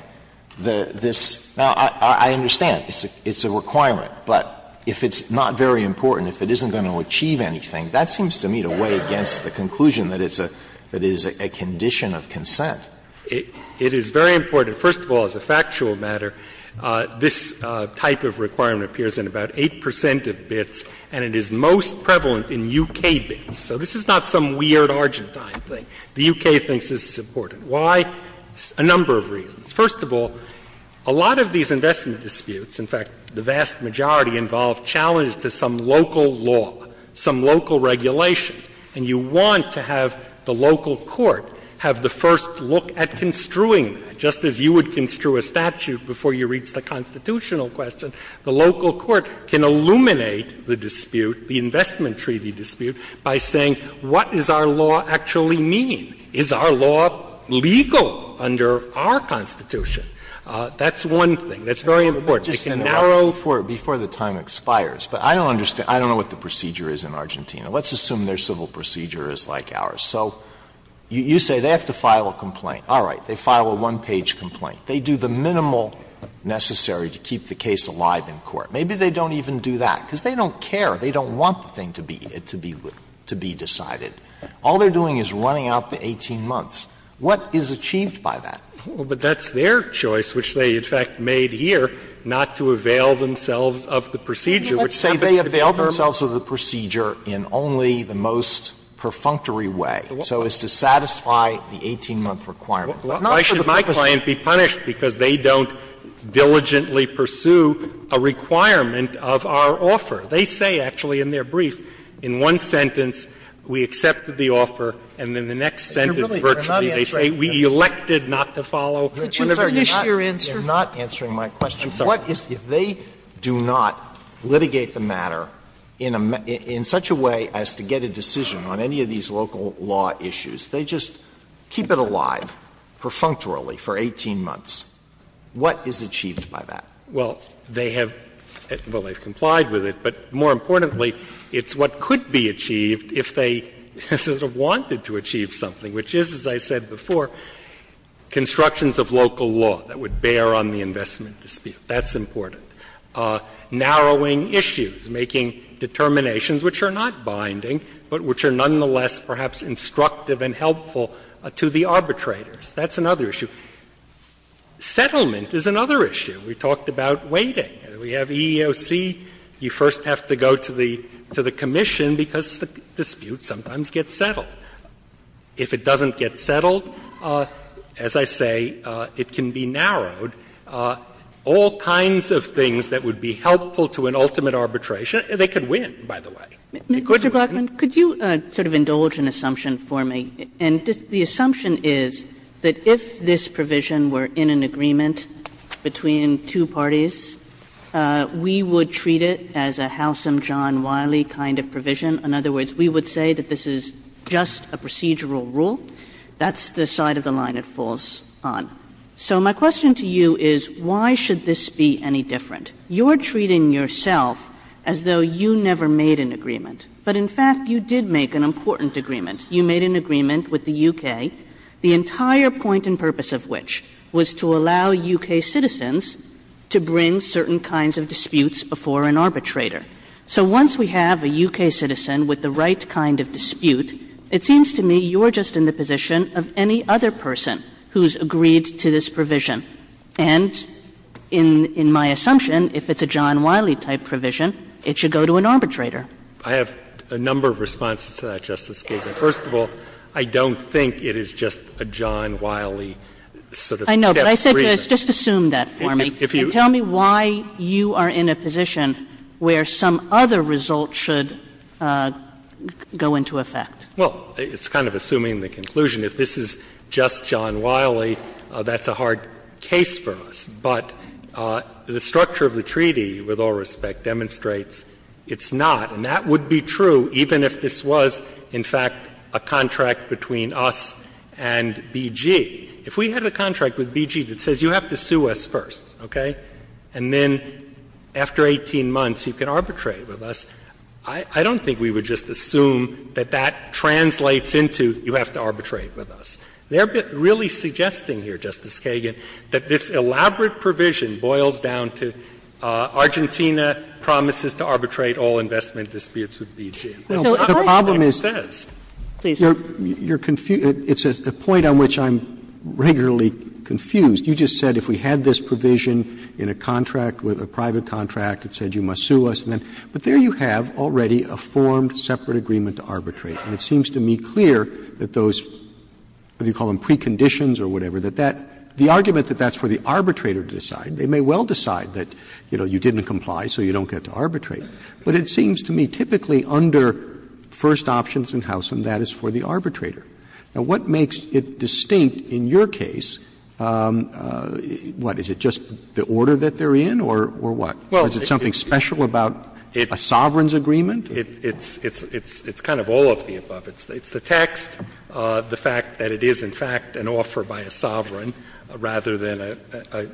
this? Now, I understand it's a requirement, but if it's not very important, if it isn't going to achieve anything, that seems to me to weigh against the conclusion that it's a condition of consent. It is very important. First of all, as a factual matter, this type of requirement appears in about 8 percent of bids and it is most prevalent in U.K. bids. So this is not some weird Argentine thing. The U.K. thinks this is important. Why? A number of reasons. First of all, a lot of these investment disputes, in fact, the vast majority, involve challenges to some local law, some local regulation. And you want to have the local court have the first look at construing that, just as you would construe a statute before you reach the constitutional question. The local court can illuminate the dispute, the investment treaty dispute, by saying what does our law actually mean? Is our law legal under our Constitution? That's one thing. That's very important. Alito, I'm sorry. I can narrow for you before the time expires, but I don't understand. I don't know what the procedure is in Argentina. Let's assume their civil procedure is like ours. So you say they have to file a complaint. All right. They file a one-page complaint. They do the minimal necessary to keep the case alive in court. Maybe they don't even do that, because they don't care. They don't want the thing to be decided. All they're doing is running out the 18 months. What is achieved by that? Well, but that's their choice, which they, in fact, made here, not to avail themselves of the procedure, which is something to be determined. Alito, let's say they avail themselves of the procedure in only the most perfunctory way, so as to satisfy the 18-month requirement. Why should my client be punished because they don't diligently pursue a requirement of our offer? They say, actually, in their brief, in one sentence, we accepted the offer, and in the next sentence, virtually, they say, we elected not to follow. Sotomayor, could you finish your answer? They're not answering my question. I'm sorry. If they do not litigate the matter in such a way as to get a decision on any of these local law issues, they just keep it alive, perfunctorily, for 18 months, what is achieved by that? Well, they have — well, they've complied with it, but more importantly, it's what could be achieved if they sort of wanted to achieve something, which is, as I said before, constructions of local law that would bear on the investment dispute. That's important. Narrowing issues, making determinations which are not binding, but which are nonetheless perhaps instructive and helpful to the arbitrators. That's another issue. Settlement is another issue. We talked about waiting. We have EEOC. You first have to go to the commission, because the dispute sometimes gets settled. If it doesn't get settled, as I say, it can be narrowed. All kinds of things that would be helpful to an ultimate arbitration, they could win, by the way. Mr. Blackman, could you sort of indulge an assumption for me? And the assumption is that if this provision were in an agreement between two parties, we would treat it as a Howsam John Wiley kind of provision. In other words, we would say that this is just a procedural rule. That's the side of the line it falls on. So my question to you is, why should this be any different? You're treating yourself as though you never made an agreement. But in fact, you did make an important agreement. You made an agreement with the U.K., the entire point and purpose of which was to allow U.K. citizens to bring certain kinds of disputes before an arbitrator. So once we have a U.K. citizen with the right kind of dispute, it seems to me you're just in the position of any other person who's agreed to this provision. And in my assumption, if it's a John Wiley type provision, it should go to an arbitrator. I have a number of responses to that, Justice Kagan. First of all, I don't think it is just a John Wiley sort of step agreement. I know, but I said just assume that for me. And tell me why you are in a position where some other result should go into effect. Well, it's kind of assuming the conclusion. If this is just John Wiley, that's a hard case for us. But the structure of the treaty, with all respect, demonstrates it's not. And that would be true even if this was, in fact, a contract between us and BG. If we had a contract with BG that says you have to sue us first, okay, and then after 18 months you can arbitrate with us, I don't think we would just assume that that translates into you have to arbitrate with us. They are really suggesting here, Justice Kagan, that this elaborate provision boils down to Argentina promises to arbitrate all investment disputes with BG. And that's not what it says. Please. Roberts, it's a point on which I'm regularly confused. You just said if we had this provision in a contract, a private contract, it said you must sue us. But there you have already a formed separate agreement to arbitrate. And it seems to me clear that those, whether you call them preconditions or whatever, that that, the argument that that's for the arbitrator to decide, they may well decide that, you know, you didn't comply so you don't get to arbitrate. But it seems to me typically under first options in House and that is for the arbitrator. Now, what makes it distinct in your case, what, is it just the order that they are in or what? Or is it something special about a sovereign's agreement? It's kind of all of the above. It's the text, the fact that it is in fact an offer by a sovereign rather than a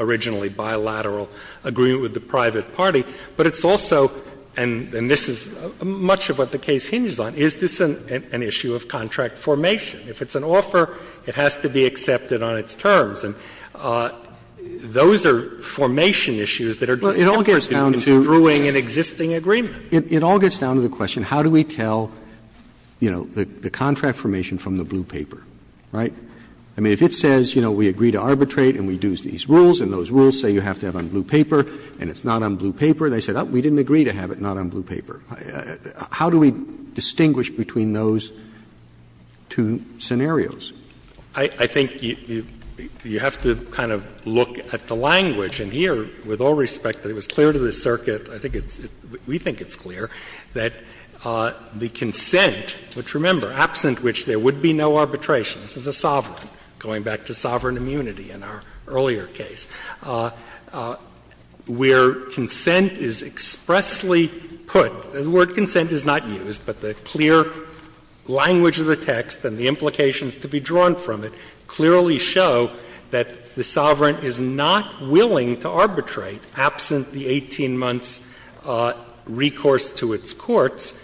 originally bilateral agreement with the private party. But it's also, and this is much of what the case hinges on, is this an issue of contract formation? If it's an offer, it has to be accepted on its terms. And those are formation issues that are just different than construing an existing agreement. Roberts, It all gets down to the question, how do we tell, you know, the contract formation from the blue paper, right? I mean, if it says, you know, we agree to arbitrate and we do these rules and those are on the paper, and they say, oh, we didn't agree to have it not on blue paper, how do we distinguish between those two scenarios? I think you have to kind of look at the language. And here, with all respect, it was clear to the circuit, I think it's we think it's clear, that the consent, which remember, absent which there would be no arbitration, this is a sovereign, going back to sovereign immunity in our earlier case, where consent is expressly put, the word consent is not used, but the clear language of the text and the implications to be drawn from it clearly show that the sovereign is not willing to arbitrate absent the 18 months' recourse to its courts.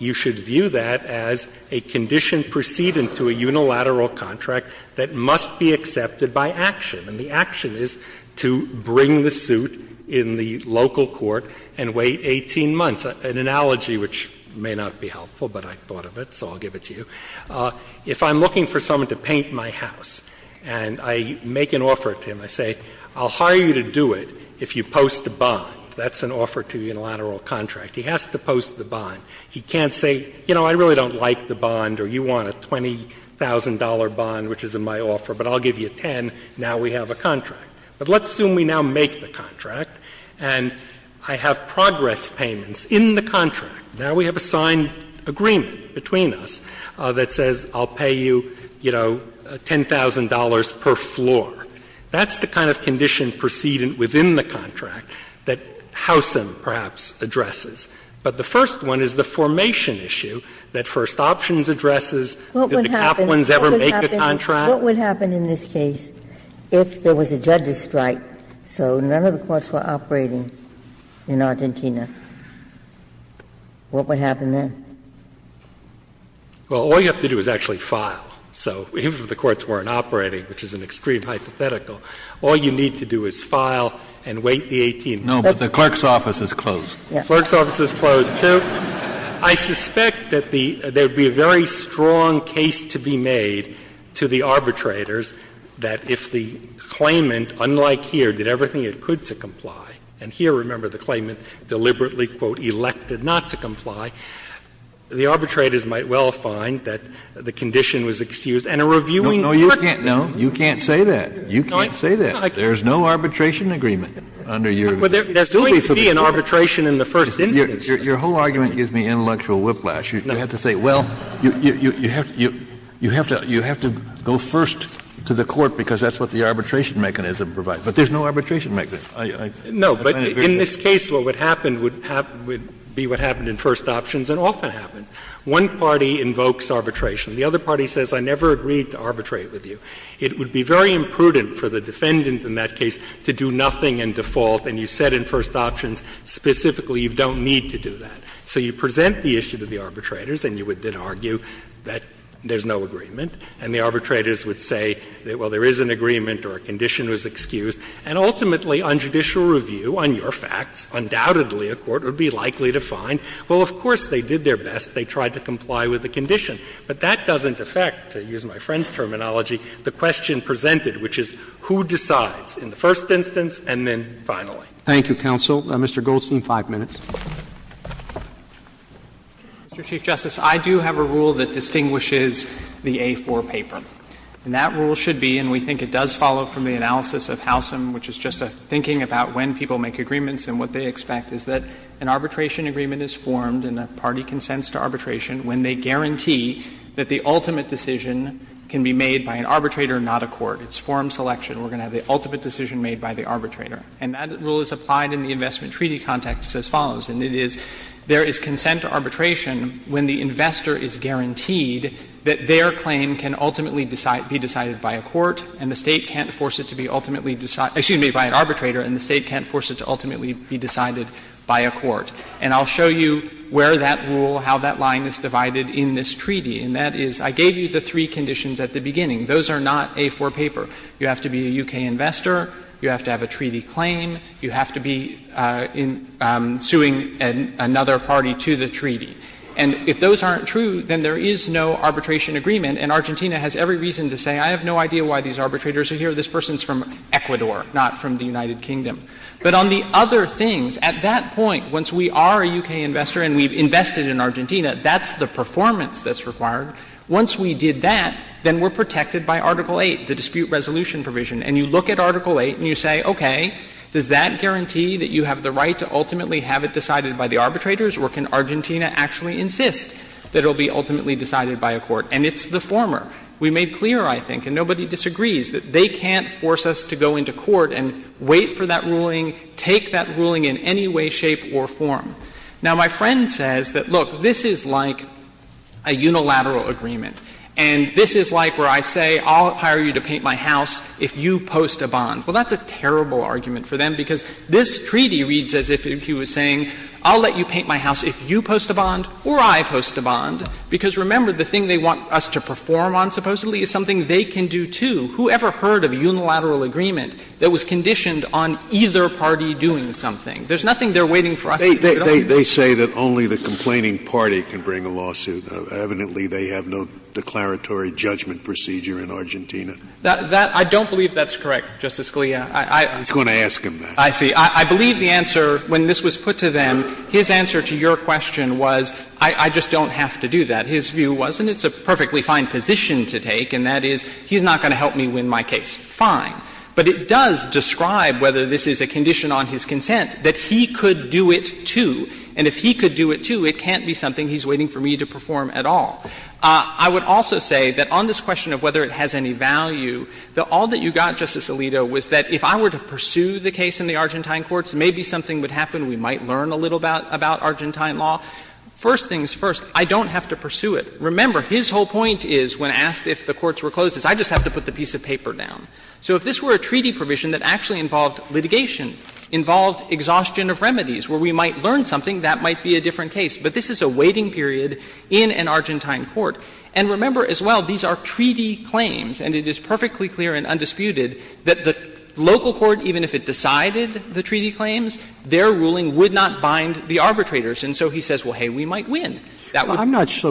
You should view that as a condition precedent to a unilateral contract that must be accepted by action. And the action is to bring the suit in the local court and wait 18 months. An analogy which may not be helpful, but I thought of it, so I'll give it to you. If I'm looking for someone to paint my house and I make an offer to him, I say, I'll hire you to do it if you post the bond. That's an offer to unilateral contract. He has to post the bond. He can't say, you know, I really don't like the bond or you want a $20,000 bond, which is in my offer, but I'll give you $10,000, now we have a contract. But let's assume we now make the contract and I have progress payments in the contract. Now we have a signed agreement between us that says, I'll pay you, you know, $10,000 per floor. That's the kind of condition precedent within the contract that Howsam, perhaps, addresses. But the first one is the formation issue that First Options addresses. Did the Kaplans ever make a contract? Ginsburg. What would happen in this case if there was a judge's strike, so none of the courts were operating in Argentina? What would happen then? Well, all you have to do is actually file. So if the courts weren't operating, which is an extreme hypothetical, all you need to do is file and wait the 18 months. No, but the clerk's office is closed. Clerk's office is closed, too. I suspect that the — there would be a very strong case to be made to the arbitrators that if the claimant, unlike here, did everything it could to comply, and here, remember, the claimant deliberately, quote, "'elected' not to comply,' the arbitrators might well find that the condition was excused and a reviewing court would be able to do that. No, you can't say that. You can't say that. There is no arbitration agreement under your view. There's going to be an arbitration in the first instance. Kennedy, your whole argument gives me intellectual whiplash. You have to say, well, you have to go first to the court because that's what the arbitration mechanism provides, but there's no arbitration mechanism. No, but in this case, what would happen would be what happened in first options and often happens. One party invokes arbitration. The other party says, I never agreed to arbitrate with you. It would be very imprudent for the defendant in that case to do nothing in default, and you said in first options specifically you don't need to do that. So you present the issue to the arbitrators and you would then argue that there's no agreement, and the arbitrators would say, well, there is an agreement or a condition was excused, and ultimately on judicial review, on your facts, undoubtedly a court would be likely to find, well, of course, they did their best. They tried to comply with the condition. But that doesn't affect, to use my friend's terminology, the question presented, which is who decides in the first instance and then finally. Roberts. Thank you, counsel. Mr. Goldstein, 5 minutes. Mr. Chief Justice, I do have a rule that distinguishes the A-4 paper, and that rule should be, and we think it does follow from the analysis of Howsam, which is just a thinking about when people make agreements and what they expect, is that an arbitration agreement is formed and a party consents to arbitration when they guarantee that the ultimate decision can be made by an arbitrator, not a court. It's form selection. We're going to have the ultimate decision made by the arbitrator. And that rule is applied in the investment treaty context as follows, and it is there is consent to arbitration when the investor is guaranteed that their claim can ultimately be decided by a court and the State can't force it to be ultimately decided by an arbitrator and the State can't force it to ultimately be decided by a court. And I'll show you where that rule, how that line is divided in this treaty, and that is I gave you the three conditions at the beginning. Those are not A-4 paper. You have to be a U.K. investor, you have to have a treaty claim, you have to be suing another party to the treaty. And if those aren't true, then there is no arbitration agreement, and Argentina has every reason to say, I have no idea why these arbitrators are here, this person is from Ecuador, not from the United Kingdom. But on the other things, at that point, once we are a U.K. investor and we've invested in Argentina, that's the performance that's required. Once we did that, then we're protected by Article VIII, the dispute resolution provision. And you look at Article VIII and you say, okay, does that guarantee that you have the right to ultimately have it decided by the arbitrators, or can Argentina actually insist that it will be ultimately decided by a court? And it's the former. We made clear, I think, and nobody disagrees, that they can't force us to go into court and wait for that ruling, take that ruling in any way, shape, or form. Now, my friend says that, look, this is like a unilateral agreement. And this is like where I say, I'll hire you to paint my house if you post a bond. Well, that's a terrible argument for them, because this treaty reads as if he was saying, I'll let you paint my house if you post a bond or I post a bond, because remember, the thing they want us to perform on, supposedly, is something they can do, too. Whoever heard of a unilateral agreement that was conditioned on either party doing something? There's nothing they're waiting for us to do. Scalia. They say that only the complaining party can bring a lawsuit. Evidently, they have no declaratory judgment procedure in Argentina. That — I don't believe that's correct, Justice Scalia. I'm not going to ask him that. I see. I believe the answer, when this was put to them, his answer to your question was, I just don't have to do that. His view was, and it's a perfectly fine position to take, and that is, he's not going to help me win my case. Fine. But it does describe, whether this is a condition on his consent, that he could do it, too. And if he could do it, too, it can't be something he's waiting for me to perform at all. I would also say that on this question of whether it has any value, that all that you got, Justice Alito, was that if I were to pursue the case in the Argentine courts, maybe something would happen. We might learn a little about — about Argentine law. First things first, I don't have to pursue it. Remember, his whole point is, when asked if the courts were closed, is I just have to put the piece of paper down. So if this were a treaty provision that actually involved litigation, involved exhaustion of remedies, where we might learn something, that might be a different case. But this is a waiting period in an Argentine court. And remember, as well, these are treaty claims, and it is perfectly clear and undisputed that the local court, even if it decided the treaty claims, their ruling would not bind the arbitrators. And so he says, well, hey, we might win. That would be the case.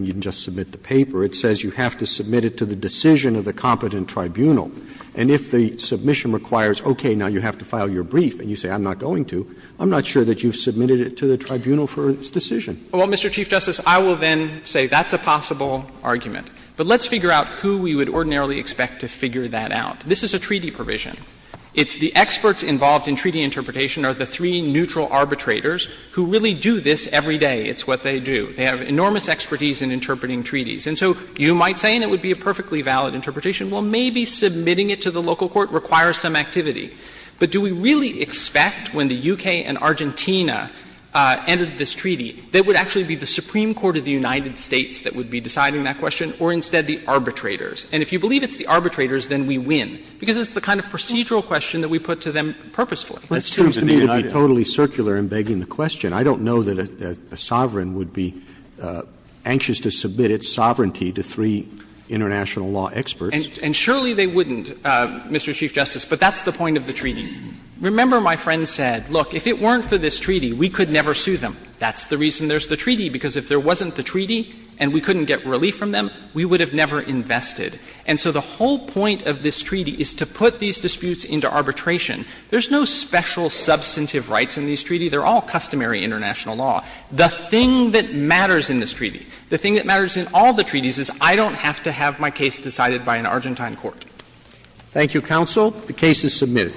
You can just submit the paper. It says you have to submit it to the decision of the competent tribunal. And if the submission requires, okay, now you have to file your brief, and you say I'm not going to, I'm not sure that you've submitted it to the tribunal for its decision. Well, Mr. Chief Justice, I will then say that's a possible argument. But let's figure out who we would ordinarily expect to figure that out. This is a treaty provision. It's the experts involved in treaty interpretation are the three neutral arbitrators who really do this every day. It's what they do. They have enormous expertise in interpreting treaties. And so you might say, and it would be a perfectly valid interpretation, well, maybe submitting it to the local court requires some activity. But do we really expect when the U.K. and Argentina entered this treaty, that it would actually be the Supreme Court of the United States that would be deciding that question, or instead the arbitrators? And if you believe it's the arbitrators, then we win, because it's the kind of procedural question that we put to them purposefully. That's true of the United States. Roberts, It seems to me to be totally circular in begging the question. I don't know that a sovereign would be anxious to submit its sovereignty to three international law experts. And surely they wouldn't, Mr. Chief Justice, but that's the point of the treaty. Remember my friend said, look, if it weren't for this treaty, we could never sue them. That's the reason there's the treaty, because if there wasn't the treaty and we couldn't get relief from them, we would have never invested. And so the whole point of this treaty is to put these disputes into arbitration. There's no special substantive rights in these treaties. They're all customary international law. The thing that matters in this treaty, the thing that matters in all the treaties, is I don't have to have my case decided by an Argentine court. Thank you, counsel. The case is submitted.